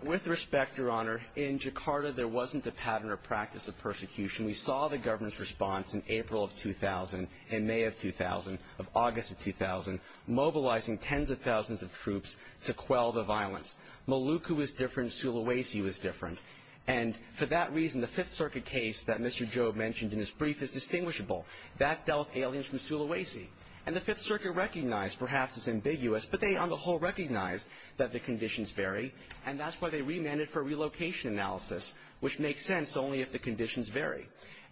With respect, Your Honor, in Jakarta, there wasn't a pattern or practice of persecution. We saw the government's response in April of 2000, in May of 2000, of August of 2000, mobilizing tens of thousands of troops to quell the violence. Maluku was different. Sulawesi was different. And for that reason, the Fifth Circuit case that Mr. Jobe mentioned in his brief is distinguishable. That dealt with aliens from Sulawesi. And the Fifth Circuit recognized, perhaps it's ambiguous, but they on the whole recognized that the conditions vary, and that's why they remanded for relocation analysis, which makes sense only if the conditions vary.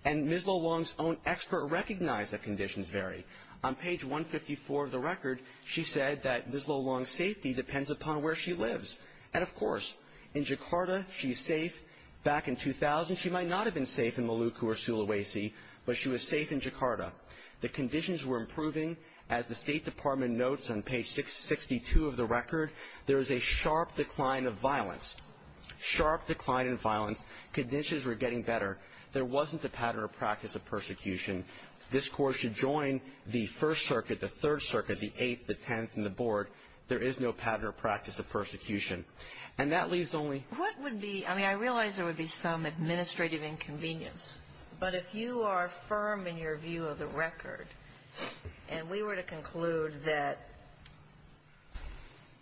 And Ms. Lo Long's own expert recognized that conditions vary. On page 154 of the record, she said that Ms. Lo Long's safety depends upon where she lives. And of course, in Jakarta, she's safe. Back in 2000, she might not have been safe in Maluku or Sulawesi, but she was safe in Jakarta. The conditions were improving. As the State Department notes on page 62 of the record, there is a sharp decline of violence. Sharp decline in violence. Conditions were getting better. There wasn't a pattern or practice of persecution. This Court should join the First Circuit, the Third Circuit, the Eighth, the Tenth, and the Board. There is no pattern or practice of persecution. And that leaves only — What would be — I mean, I realize there would be some administrative inconvenience, but if you are firm in your view of the record, and we were to conclude that,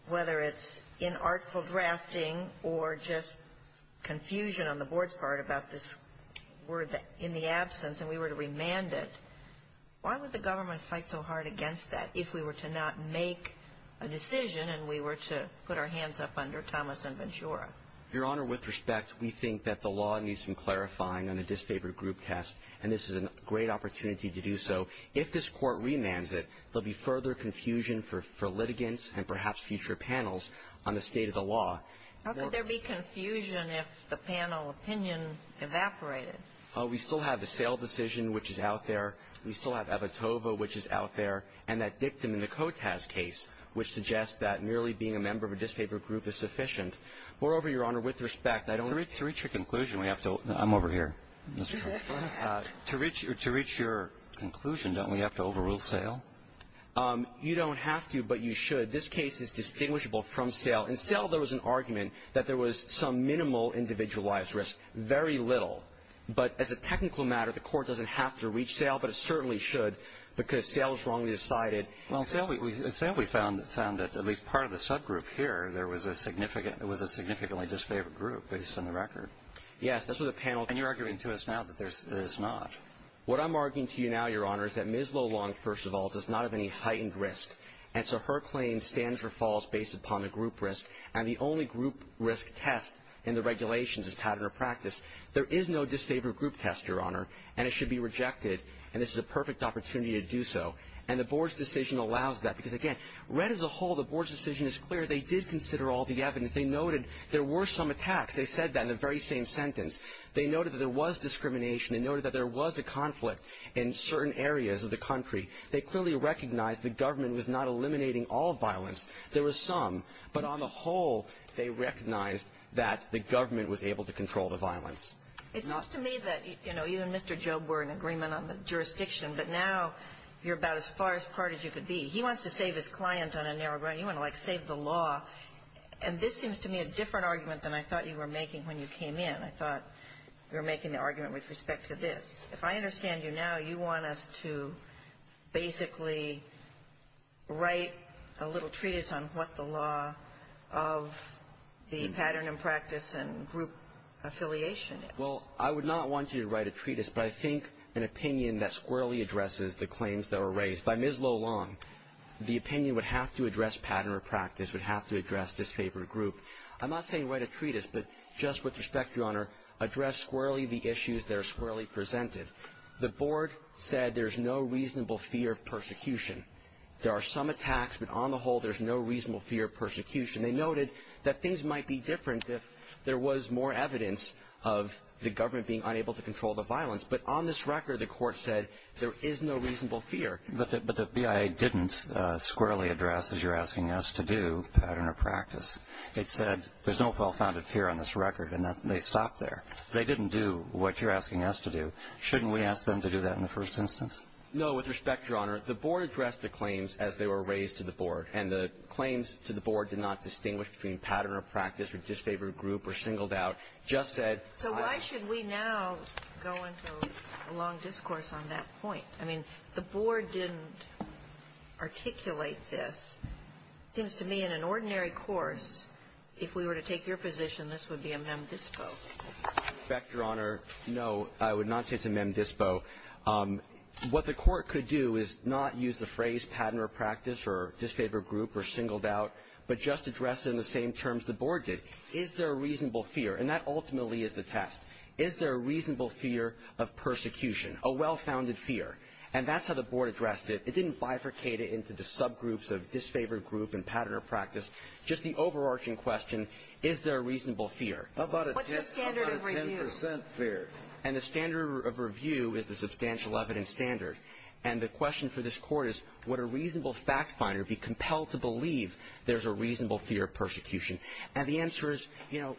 whether it's inartful drafting or just confusion on the Board's part about this word in the absence, and we were to remand it, why would the government fight so hard against that if we were to not make a decision and we were to put our hands up under Thomas and Ventura? Your Honor, with respect, we think that the law needs some clarifying on a disfavored group test, and this is a great opportunity to do so. If this Court remands it, there will be further confusion for litigants and perhaps future panels on the state of the law. How could there be confusion if the panel opinion evaporated? We still have the Sale decision, which is out there. We still have Evatova, which is out there. And that dictum in the Kotaz case, which suggests that merely being a member of a disfavored group is sufficient. Moreover, Your Honor, with respect, I don't — To reach your conclusion, we have to — I'm over here, Mr. Connolly. To reach your conclusion, don't we have to overrule Sale? You don't have to, but you should. This case is distinguishable from Sale. In Sale, there was an argument that there was some minimal individualized risk, very little. But as a technical matter, the Court doesn't have to reach Sale, but it certainly should, because Sale strongly decided — Well, in Sale, we found that at least part of the subgroup here, there was a significant — it was a significantly disfavored group, based on the record. Yes. That's what the panel — And you're arguing to us now that there's not. What I'm arguing to you now, Your Honor, is that Ms. Lulong, first of all, does not have any heightened risk. And so her claim stands or falls based upon the group risk. And the only group risk test in the regulations is pattern or practice. There is no disfavored group test, Your Honor, and it should be rejected. And this is a perfect opportunity to do so. And the board's decision allows that, because, again, read as a whole, the board's decision is clear. They did consider all the evidence. They noted there were some attacks. They said that in the very same sentence. They noted that there was discrimination. They noted that there was a conflict in certain areas of the country. They clearly recognized the government was not eliminating all violence. There was some. But on the whole, they recognized that the government was able to control the violence. It seems to me that, you know, you and Mr. Jobe were in agreement on the jurisdiction, but now you're about as far apart as you could be. He wants to save his client on a narrow ground. You want to, like, save the law. And this seems to me a different argument than I thought you were making when you came in. I thought you were making the argument with respect to this. If I understand you now, you want us to basically write a little treatise on what the law of the pattern and practice and group affiliation is. Well, I would not want you to write a treatise, but I think an opinion that squarely addresses the claims that were raised by Ms. Lo Long, the opinion would have to address pattern or practice, would have to address disfavored group. I'm not saying write a treatise, but just with respect, Your Honor, address squarely the issues that are squarely presented. The board said there's no reasonable fear of persecution. There are some attacks, but on the whole, there's no reasonable fear of persecution. They noted that things might be different if there was more evidence of the government being unable to control the violence. But on this record, the court said there is no reasonable fear. But the BIA didn't squarely address, as you're asking us to do, pattern or practice. It said there's no well-founded fear on this record, and they stopped there. They didn't do what you're asking us to do. Shouldn't we ask them to do that in the first instance? No. With respect, Your Honor, the board addressed the claims as they were raised to the board, and the claims to the board did not distinguish between pattern or practice or disfavored group or singled out. It just said why should we now go into a long discourse on that point? I mean, the board didn't articulate this. It seems to me in an ordinary course, if we were to take your position, this would be a mem dispo. With respect, Your Honor, no, I would not say it's a mem dispo. What the court could do is not use the phrase pattern or practice or disfavored group or singled out, but just address it in the same terms the board did. Is there a reasonable fear? And that ultimately is the test. Is there a reasonable fear of persecution, a well-founded fear? And that's how the board addressed it. It didn't bifurcate it into the subgroups of disfavored group and pattern or practice. Just the overarching question, is there a reasonable fear? What's the standard of review? What's the standard of review? And the standard of review is the substantial evidence standard. And the question for this Court is would a reasonable factfinder be compelled to believe there's a reasonable fear of persecution? And the answer is, you know,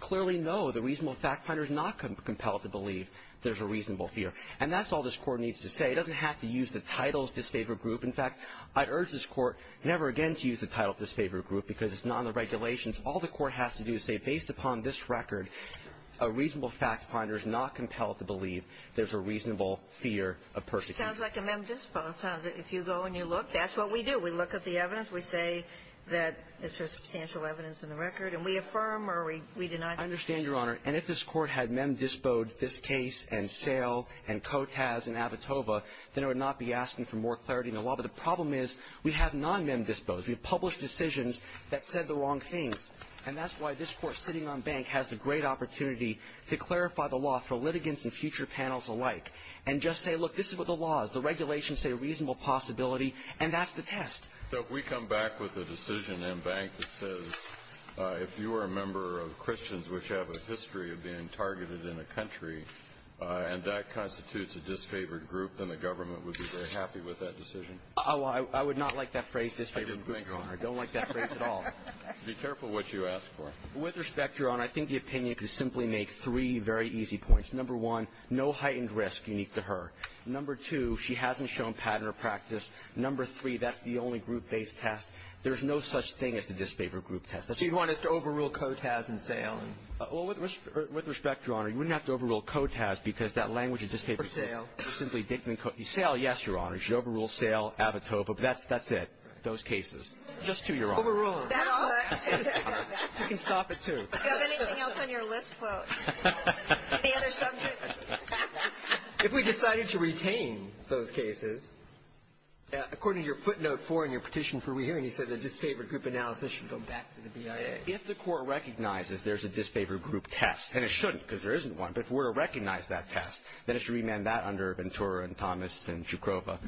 clearly, no, the reasonable factfinder is not compelled to believe there's a reasonable fear. And that's all this Court needs to say. It doesn't have to use the title of disfavored group. In fact, I'd urge this Court never again to use the title of disfavored group because it's not in the regulations. All the Court has to do is say, based upon this record, a reasonable factfinder is not compelled to believe there's a reasonable fear of persecution. It sounds like a mem dispo. It sounds like if you go and you look, that's what we do. We look at the evidence. We say that there's substantial evidence in the record. And we affirm or we deny. I understand, Your Honor. And if this Court had mem dispo-ed this case and Sale and Kotaz and Avitova, then it would not be asking for more clarity in the law. But the problem is we have non-mem dispos. We have published decisions that said the wrong things. And that's why this Court, sitting on Bank, has the great opportunity to clarify the law for litigants and future panels alike and just say, look, this is what the law is. The regulations say a reasonable possibility, and that's the test. So if we come back with a decision in Bank that says, if you are a member of Christians who have a history of being targeted in a country, and that constitutes a disfavored group, then the government would be very happy with that decision? Oh, I would not like that phrase, disfavored group, Your Honor. I don't like that phrase at all. Be careful what you ask for. With respect, Your Honor, I think the opinion could simply make three very easy points. Number one, no heightened risk unique to her. Number two, she hasn't shown pattern or practice. Number three, that's the only group-based test. There's no such thing as the disfavored group test. So you'd want us to overrule COTAS and SAIL? Well, with respect, Your Honor, you wouldn't have to overrule COTAS because that language of disfavored group. Or SAIL. SAIL, yes, Your Honor. You should overrule SAIL, ABITOVA, but that's it, those cases. Just two, Your Honor. Overrule them. That's all I have to say, Your Honor. You can stop at two. Do you have anything else on your list, folks? Any other subjects? If we decided to retain those cases, according to your footnote four in your petition for re-hearing, you said the disfavored group analysis should go back to the BIA. If the Court recognizes there's a disfavored group test, and it shouldn't because there isn't one, but if we're to recognize that test, then it's to remand that under Ventura and Thomas and Shukrova.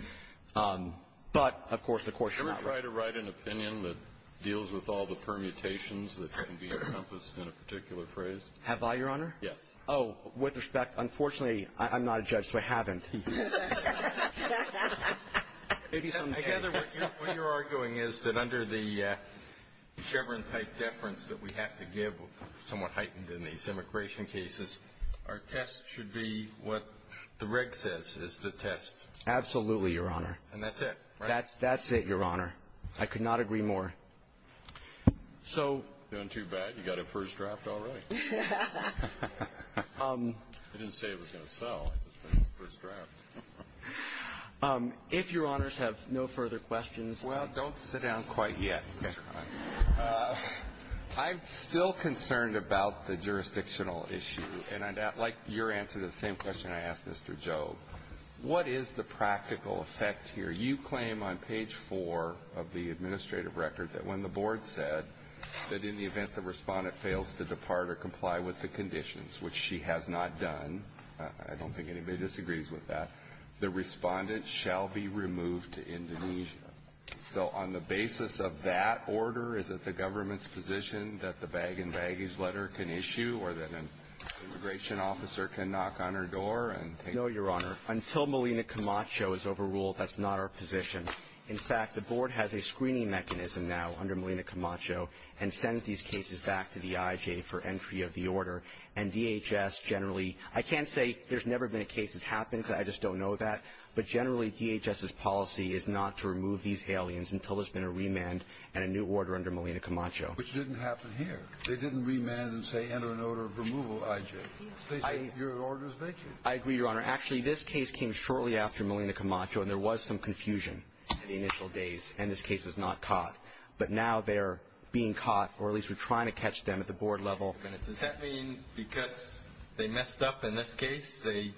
But, of course, the Court should not write an opinion that deals with all the permutations that can be encompassed in a particular phrase. Have I, Your Honor? Yes. Oh, with respect, unfortunately, I'm not a judge, so I haven't. I gather what you're arguing is that under the Chevron-type deference that we have to give, somewhat heightened in these immigration cases, our test should be what the reg says is the test. Absolutely, Your Honor. And that's it, right? That's it, Your Honor. I could not agree more. So you're doing too bad. You got it first draft already. I didn't say it was going to sell. I just said it's first draft. If Your Honors have no further questions. Well, don't sit down quite yet. I'm still concerned about the jurisdictional issue, and I'd like your answer to the same question I asked Mr. Jobe. What is the practical effect here? You claim on page 4 of the administrative record that when the board said that in the event the respondent fails to depart or comply with the conditions, which she has not done, I don't think anybody disagrees with that, the respondent shall be removed to Indonesia. So on the basis of that order, is it the government's position that the bag-in-baggage letter can issue or that an immigration officer can knock on her door and take her? No, Your Honor. Until Melina Camacho is overruled, that's not our position. In fact, the board has a screening mechanism now under Melina Camacho and sends these cases back to the IJ for entry of the order. And DHS generally, I can't say there's never been a case that's happened because I just don't know that, but generally DHS's policy is not to remove these aliens until there's been a remand and a new order under Melina Camacho. Which didn't happen here. They didn't remand and say enter an order of removal IJ. They said your order is vacant. I agree, Your Honor. Actually, this case came shortly after Melina Camacho and there was some confusion in the initial days and this case was not caught. But now they're being caught, or at least we're trying to catch them at the board level. Does that mean because they messed up in this case, they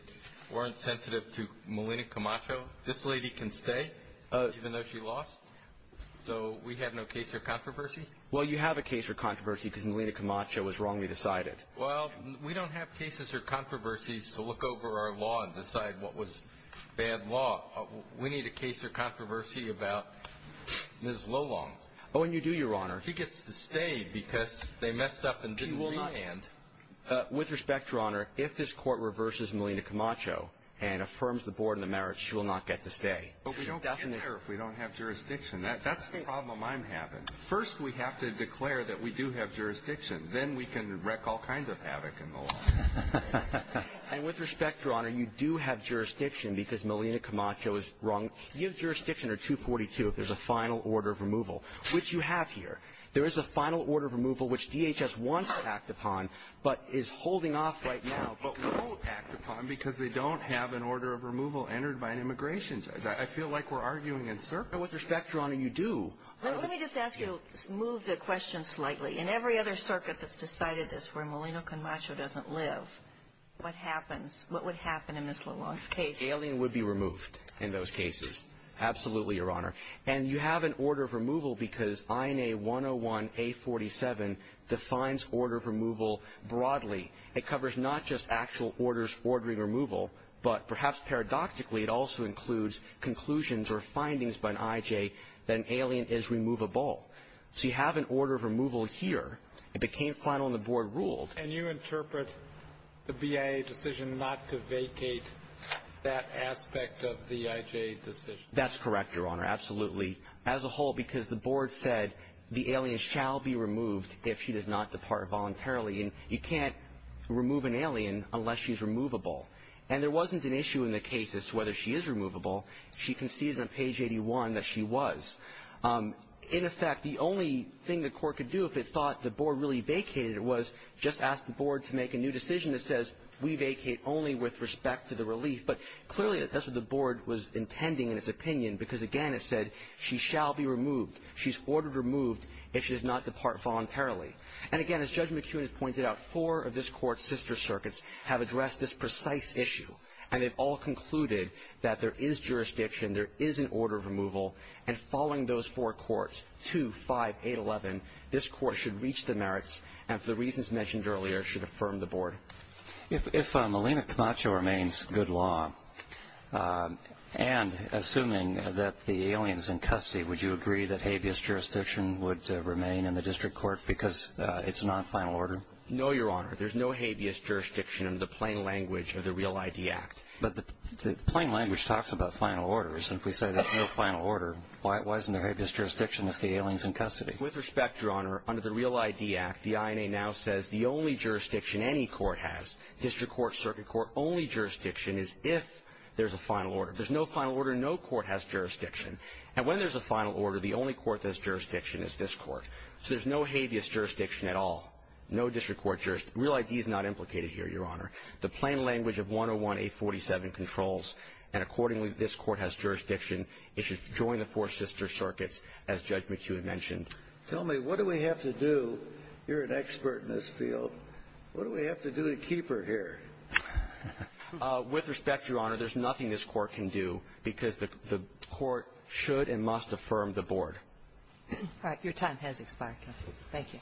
weren't sensitive to Melina Camacho? This lady can stay even though she lost? So we have no case or controversy? Well, you have a case or controversy because Melina Camacho was wrongly decided. Well, we don't have cases or controversies to look over our law and decide what was bad law. We need a case or controversy about Ms. Lolong. Oh, and you do, Your Honor. She gets to stay because they messed up and didn't remand. With respect, Your Honor, if this Court reverses Melina Camacho and affirms the board and the merits, she will not get to stay. But we don't care if we don't have jurisdiction. That's the problem I'm having. First we have to declare that we do have jurisdiction. Then we can wreck all kinds of havoc in the law. And with respect, Your Honor, you do have jurisdiction because Melina Camacho is wrong. You have jurisdiction under 242 if there's a final order of removal, which you have here. There is a final order of removal which DHS wants to act upon but is holding off right now but won't act upon because they don't have an order of removal entered by an immigration judge. I feel like we're arguing in circles. And with respect, Your Honor, you do. Let me just ask you to move the question slightly. In every other circuit that's decided this where Melina Camacho doesn't live, what happens? What would happen in Ms. Lalonde's case? Alien would be removed in those cases, absolutely, Your Honor. And you have an order of removal because INA 101-A47 defines order of removal broadly. It covers not just actual orders ordering removal, but perhaps paradoxically it also includes conclusions or findings by an IJ that an alien is removable. So you have an order of removal here. It became final and the board ruled. And you interpret the BIA decision not to vacate that aspect of the IJ decision? That's correct, Your Honor, absolutely, as a whole, because the board said the alien shall be removed if she does not depart voluntarily. And you can't remove an alien unless she's removable. And there wasn't an issue in the case as to whether she is removable. She conceded on page 81 that she was. In effect, the only thing the court could do if it thought the board really vacated it was just ask the board to make a new decision that says we vacate only with respect to the relief. But clearly that's what the board was intending in its opinion because, again, it said she shall be removed, she's ordered removed if she does not depart voluntarily. And again, as Judge McEwen has pointed out, four of this Court's sister circuits have addressed this precise issue. And they've all concluded that there is jurisdiction, there is an order of removal. And following those four courts, 2, 5, 8, 11, this Court should reach the merits and for the reasons mentioned earlier should affirm the board. If Melina Camacho remains good law and assuming that the alien is in custody, would you agree that habeas jurisdiction would remain in the district court because it's a non-final order? No, Your Honor, there's no habeas jurisdiction in the plain language of the Real ID Act. But the plain language talks about final orders and if we say there's no final order, why isn't there habeas jurisdiction if the alien's in custody? With respect, Your Honor, under the Real ID Act, the INA now says the only jurisdiction any court has, district court, circuit court, only jurisdiction is if there's a final order. If there's no final order, no court has jurisdiction. And when there's a final order, the only court that has jurisdiction is this Court. So there's no habeas jurisdiction at all, no district court jurisdiction. Real ID is not implicated here, Your Honor. The plain language of 101-847 controls, and accordingly, this court has jurisdiction. It should join the four sister circuits, as Judge McHugh had mentioned. Tell me, what do we have to do? You're an expert in this field. What do we have to do to keep her here? With respect, Your Honor, there's nothing this court can do because the court should and must affirm the board. All right, your time has expired, counsel. Thank you.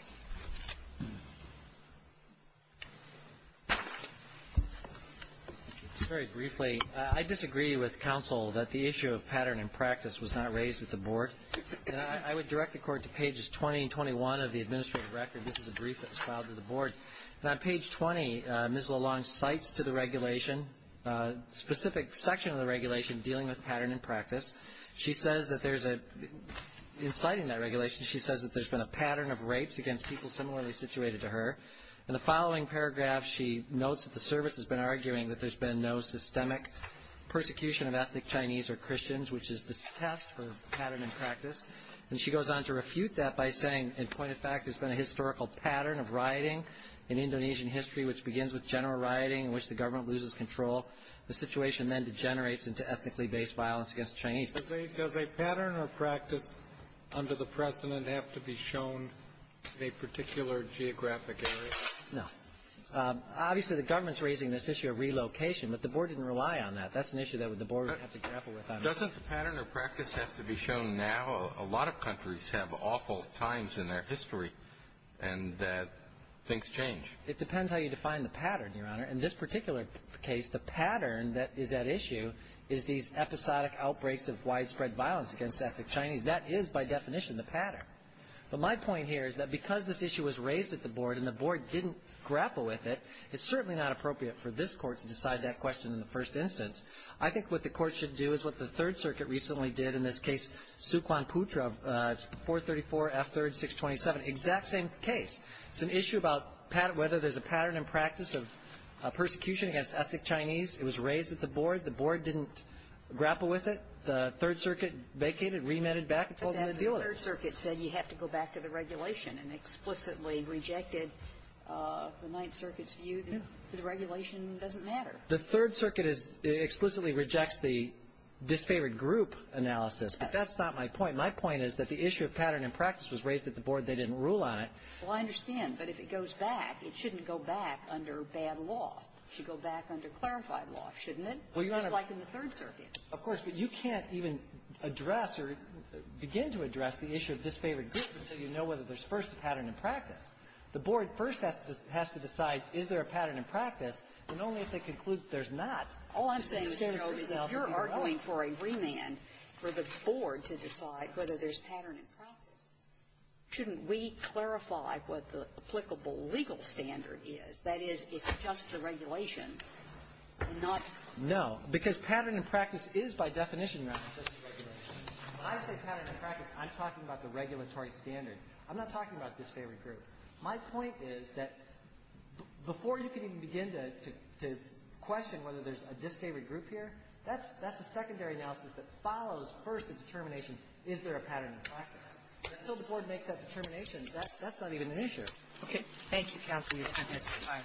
Very briefly, I disagree with counsel that the issue of pattern and practice was not raised at the board. I would direct the court to pages 20 and 21 of the administrative record. This is a brief that was filed to the board. On page 20, Ms. Lalonde cites to the regulation, a specific section of the regulation dealing with pattern and practice. She says that there's a, in citing that regulation, she says that there's been a pattern of rapes against people similarly situated to her. In the following paragraph, she notes that the service has been arguing that there's been no systemic persecution of ethnic Chinese or Christians, which is the test for pattern and practice. And she goes on to refute that by saying, in point of fact, there's been a historical pattern of rioting in Indonesian history which begins with general rioting in which the government loses control. The situation then degenerates into ethnically based violence against Chinese. No. Obviously, the government's raising this issue of relocation, but the board didn't rely on that. That's an issue that the board would have to grapple with on its own. Doesn't the pattern or practice have to be shown now? A lot of countries have awful times in their history and that things change. It depends how you define the pattern, Your Honor. In this particular case, the pattern that is at issue is these episodic outbreaks of widespread violence against ethnic Chinese. That is, by definition, the pattern. But my point here is that because this issue was raised at the board and the board didn't grapple with it, it's certainly not appropriate for this court to decide that question in the first instance. I think what the court should do is what the Third Circuit recently did in this case, Suquan Putra, 434F3-627, exact same case. It's an issue about whether there's a pattern and practice of persecution against ethnic Chinese. It was raised at the board. The board didn't grapple with it. The Third Circuit vacated, remitted back, and told them to deal with it. But the Third Circuit said you have to go back to the regulation and explicitly rejected the Ninth Circuit's view that the regulation doesn't matter. The Third Circuit explicitly rejects the disfavored group analysis. But that's not my point. My point is that the issue of pattern and practice was raised at the board. They didn't rule on it. Well, I understand. But if it goes back, it shouldn't go back under bad law. It should go back under clarified law, shouldn't it? Well, Your Honor — Just like in the Third Circuit. Of course. But you can't even address or begin to address the issue of disfavored groups until you know whether there's first a pattern and practice. The board first has to decide, is there a pattern and practice, and only if they conclude there's not. All I'm saying, Your Honor, is if you're arguing for a remand for the board to decide whether there's pattern and practice, shouldn't we clarify what the applicable legal standard is? That is, it's just the regulation, not — No. Because pattern and practice is, by definition, not just the regulation. When I say pattern and practice, I'm talking about the regulatory standard. I'm not talking about disfavored group. My point is that before you can even begin to question whether there's a disfavored group here, that's — that's a secondary analysis that follows first the determination, is there a pattern and practice. Until the board makes that determination, that's not even an issue. Okay. Thank you, counsel. Your time has expired.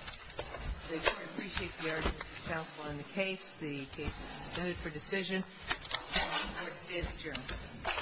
The court appreciates the arguments of counsel on the case. The case is submitted for decision. Court stands adjourned.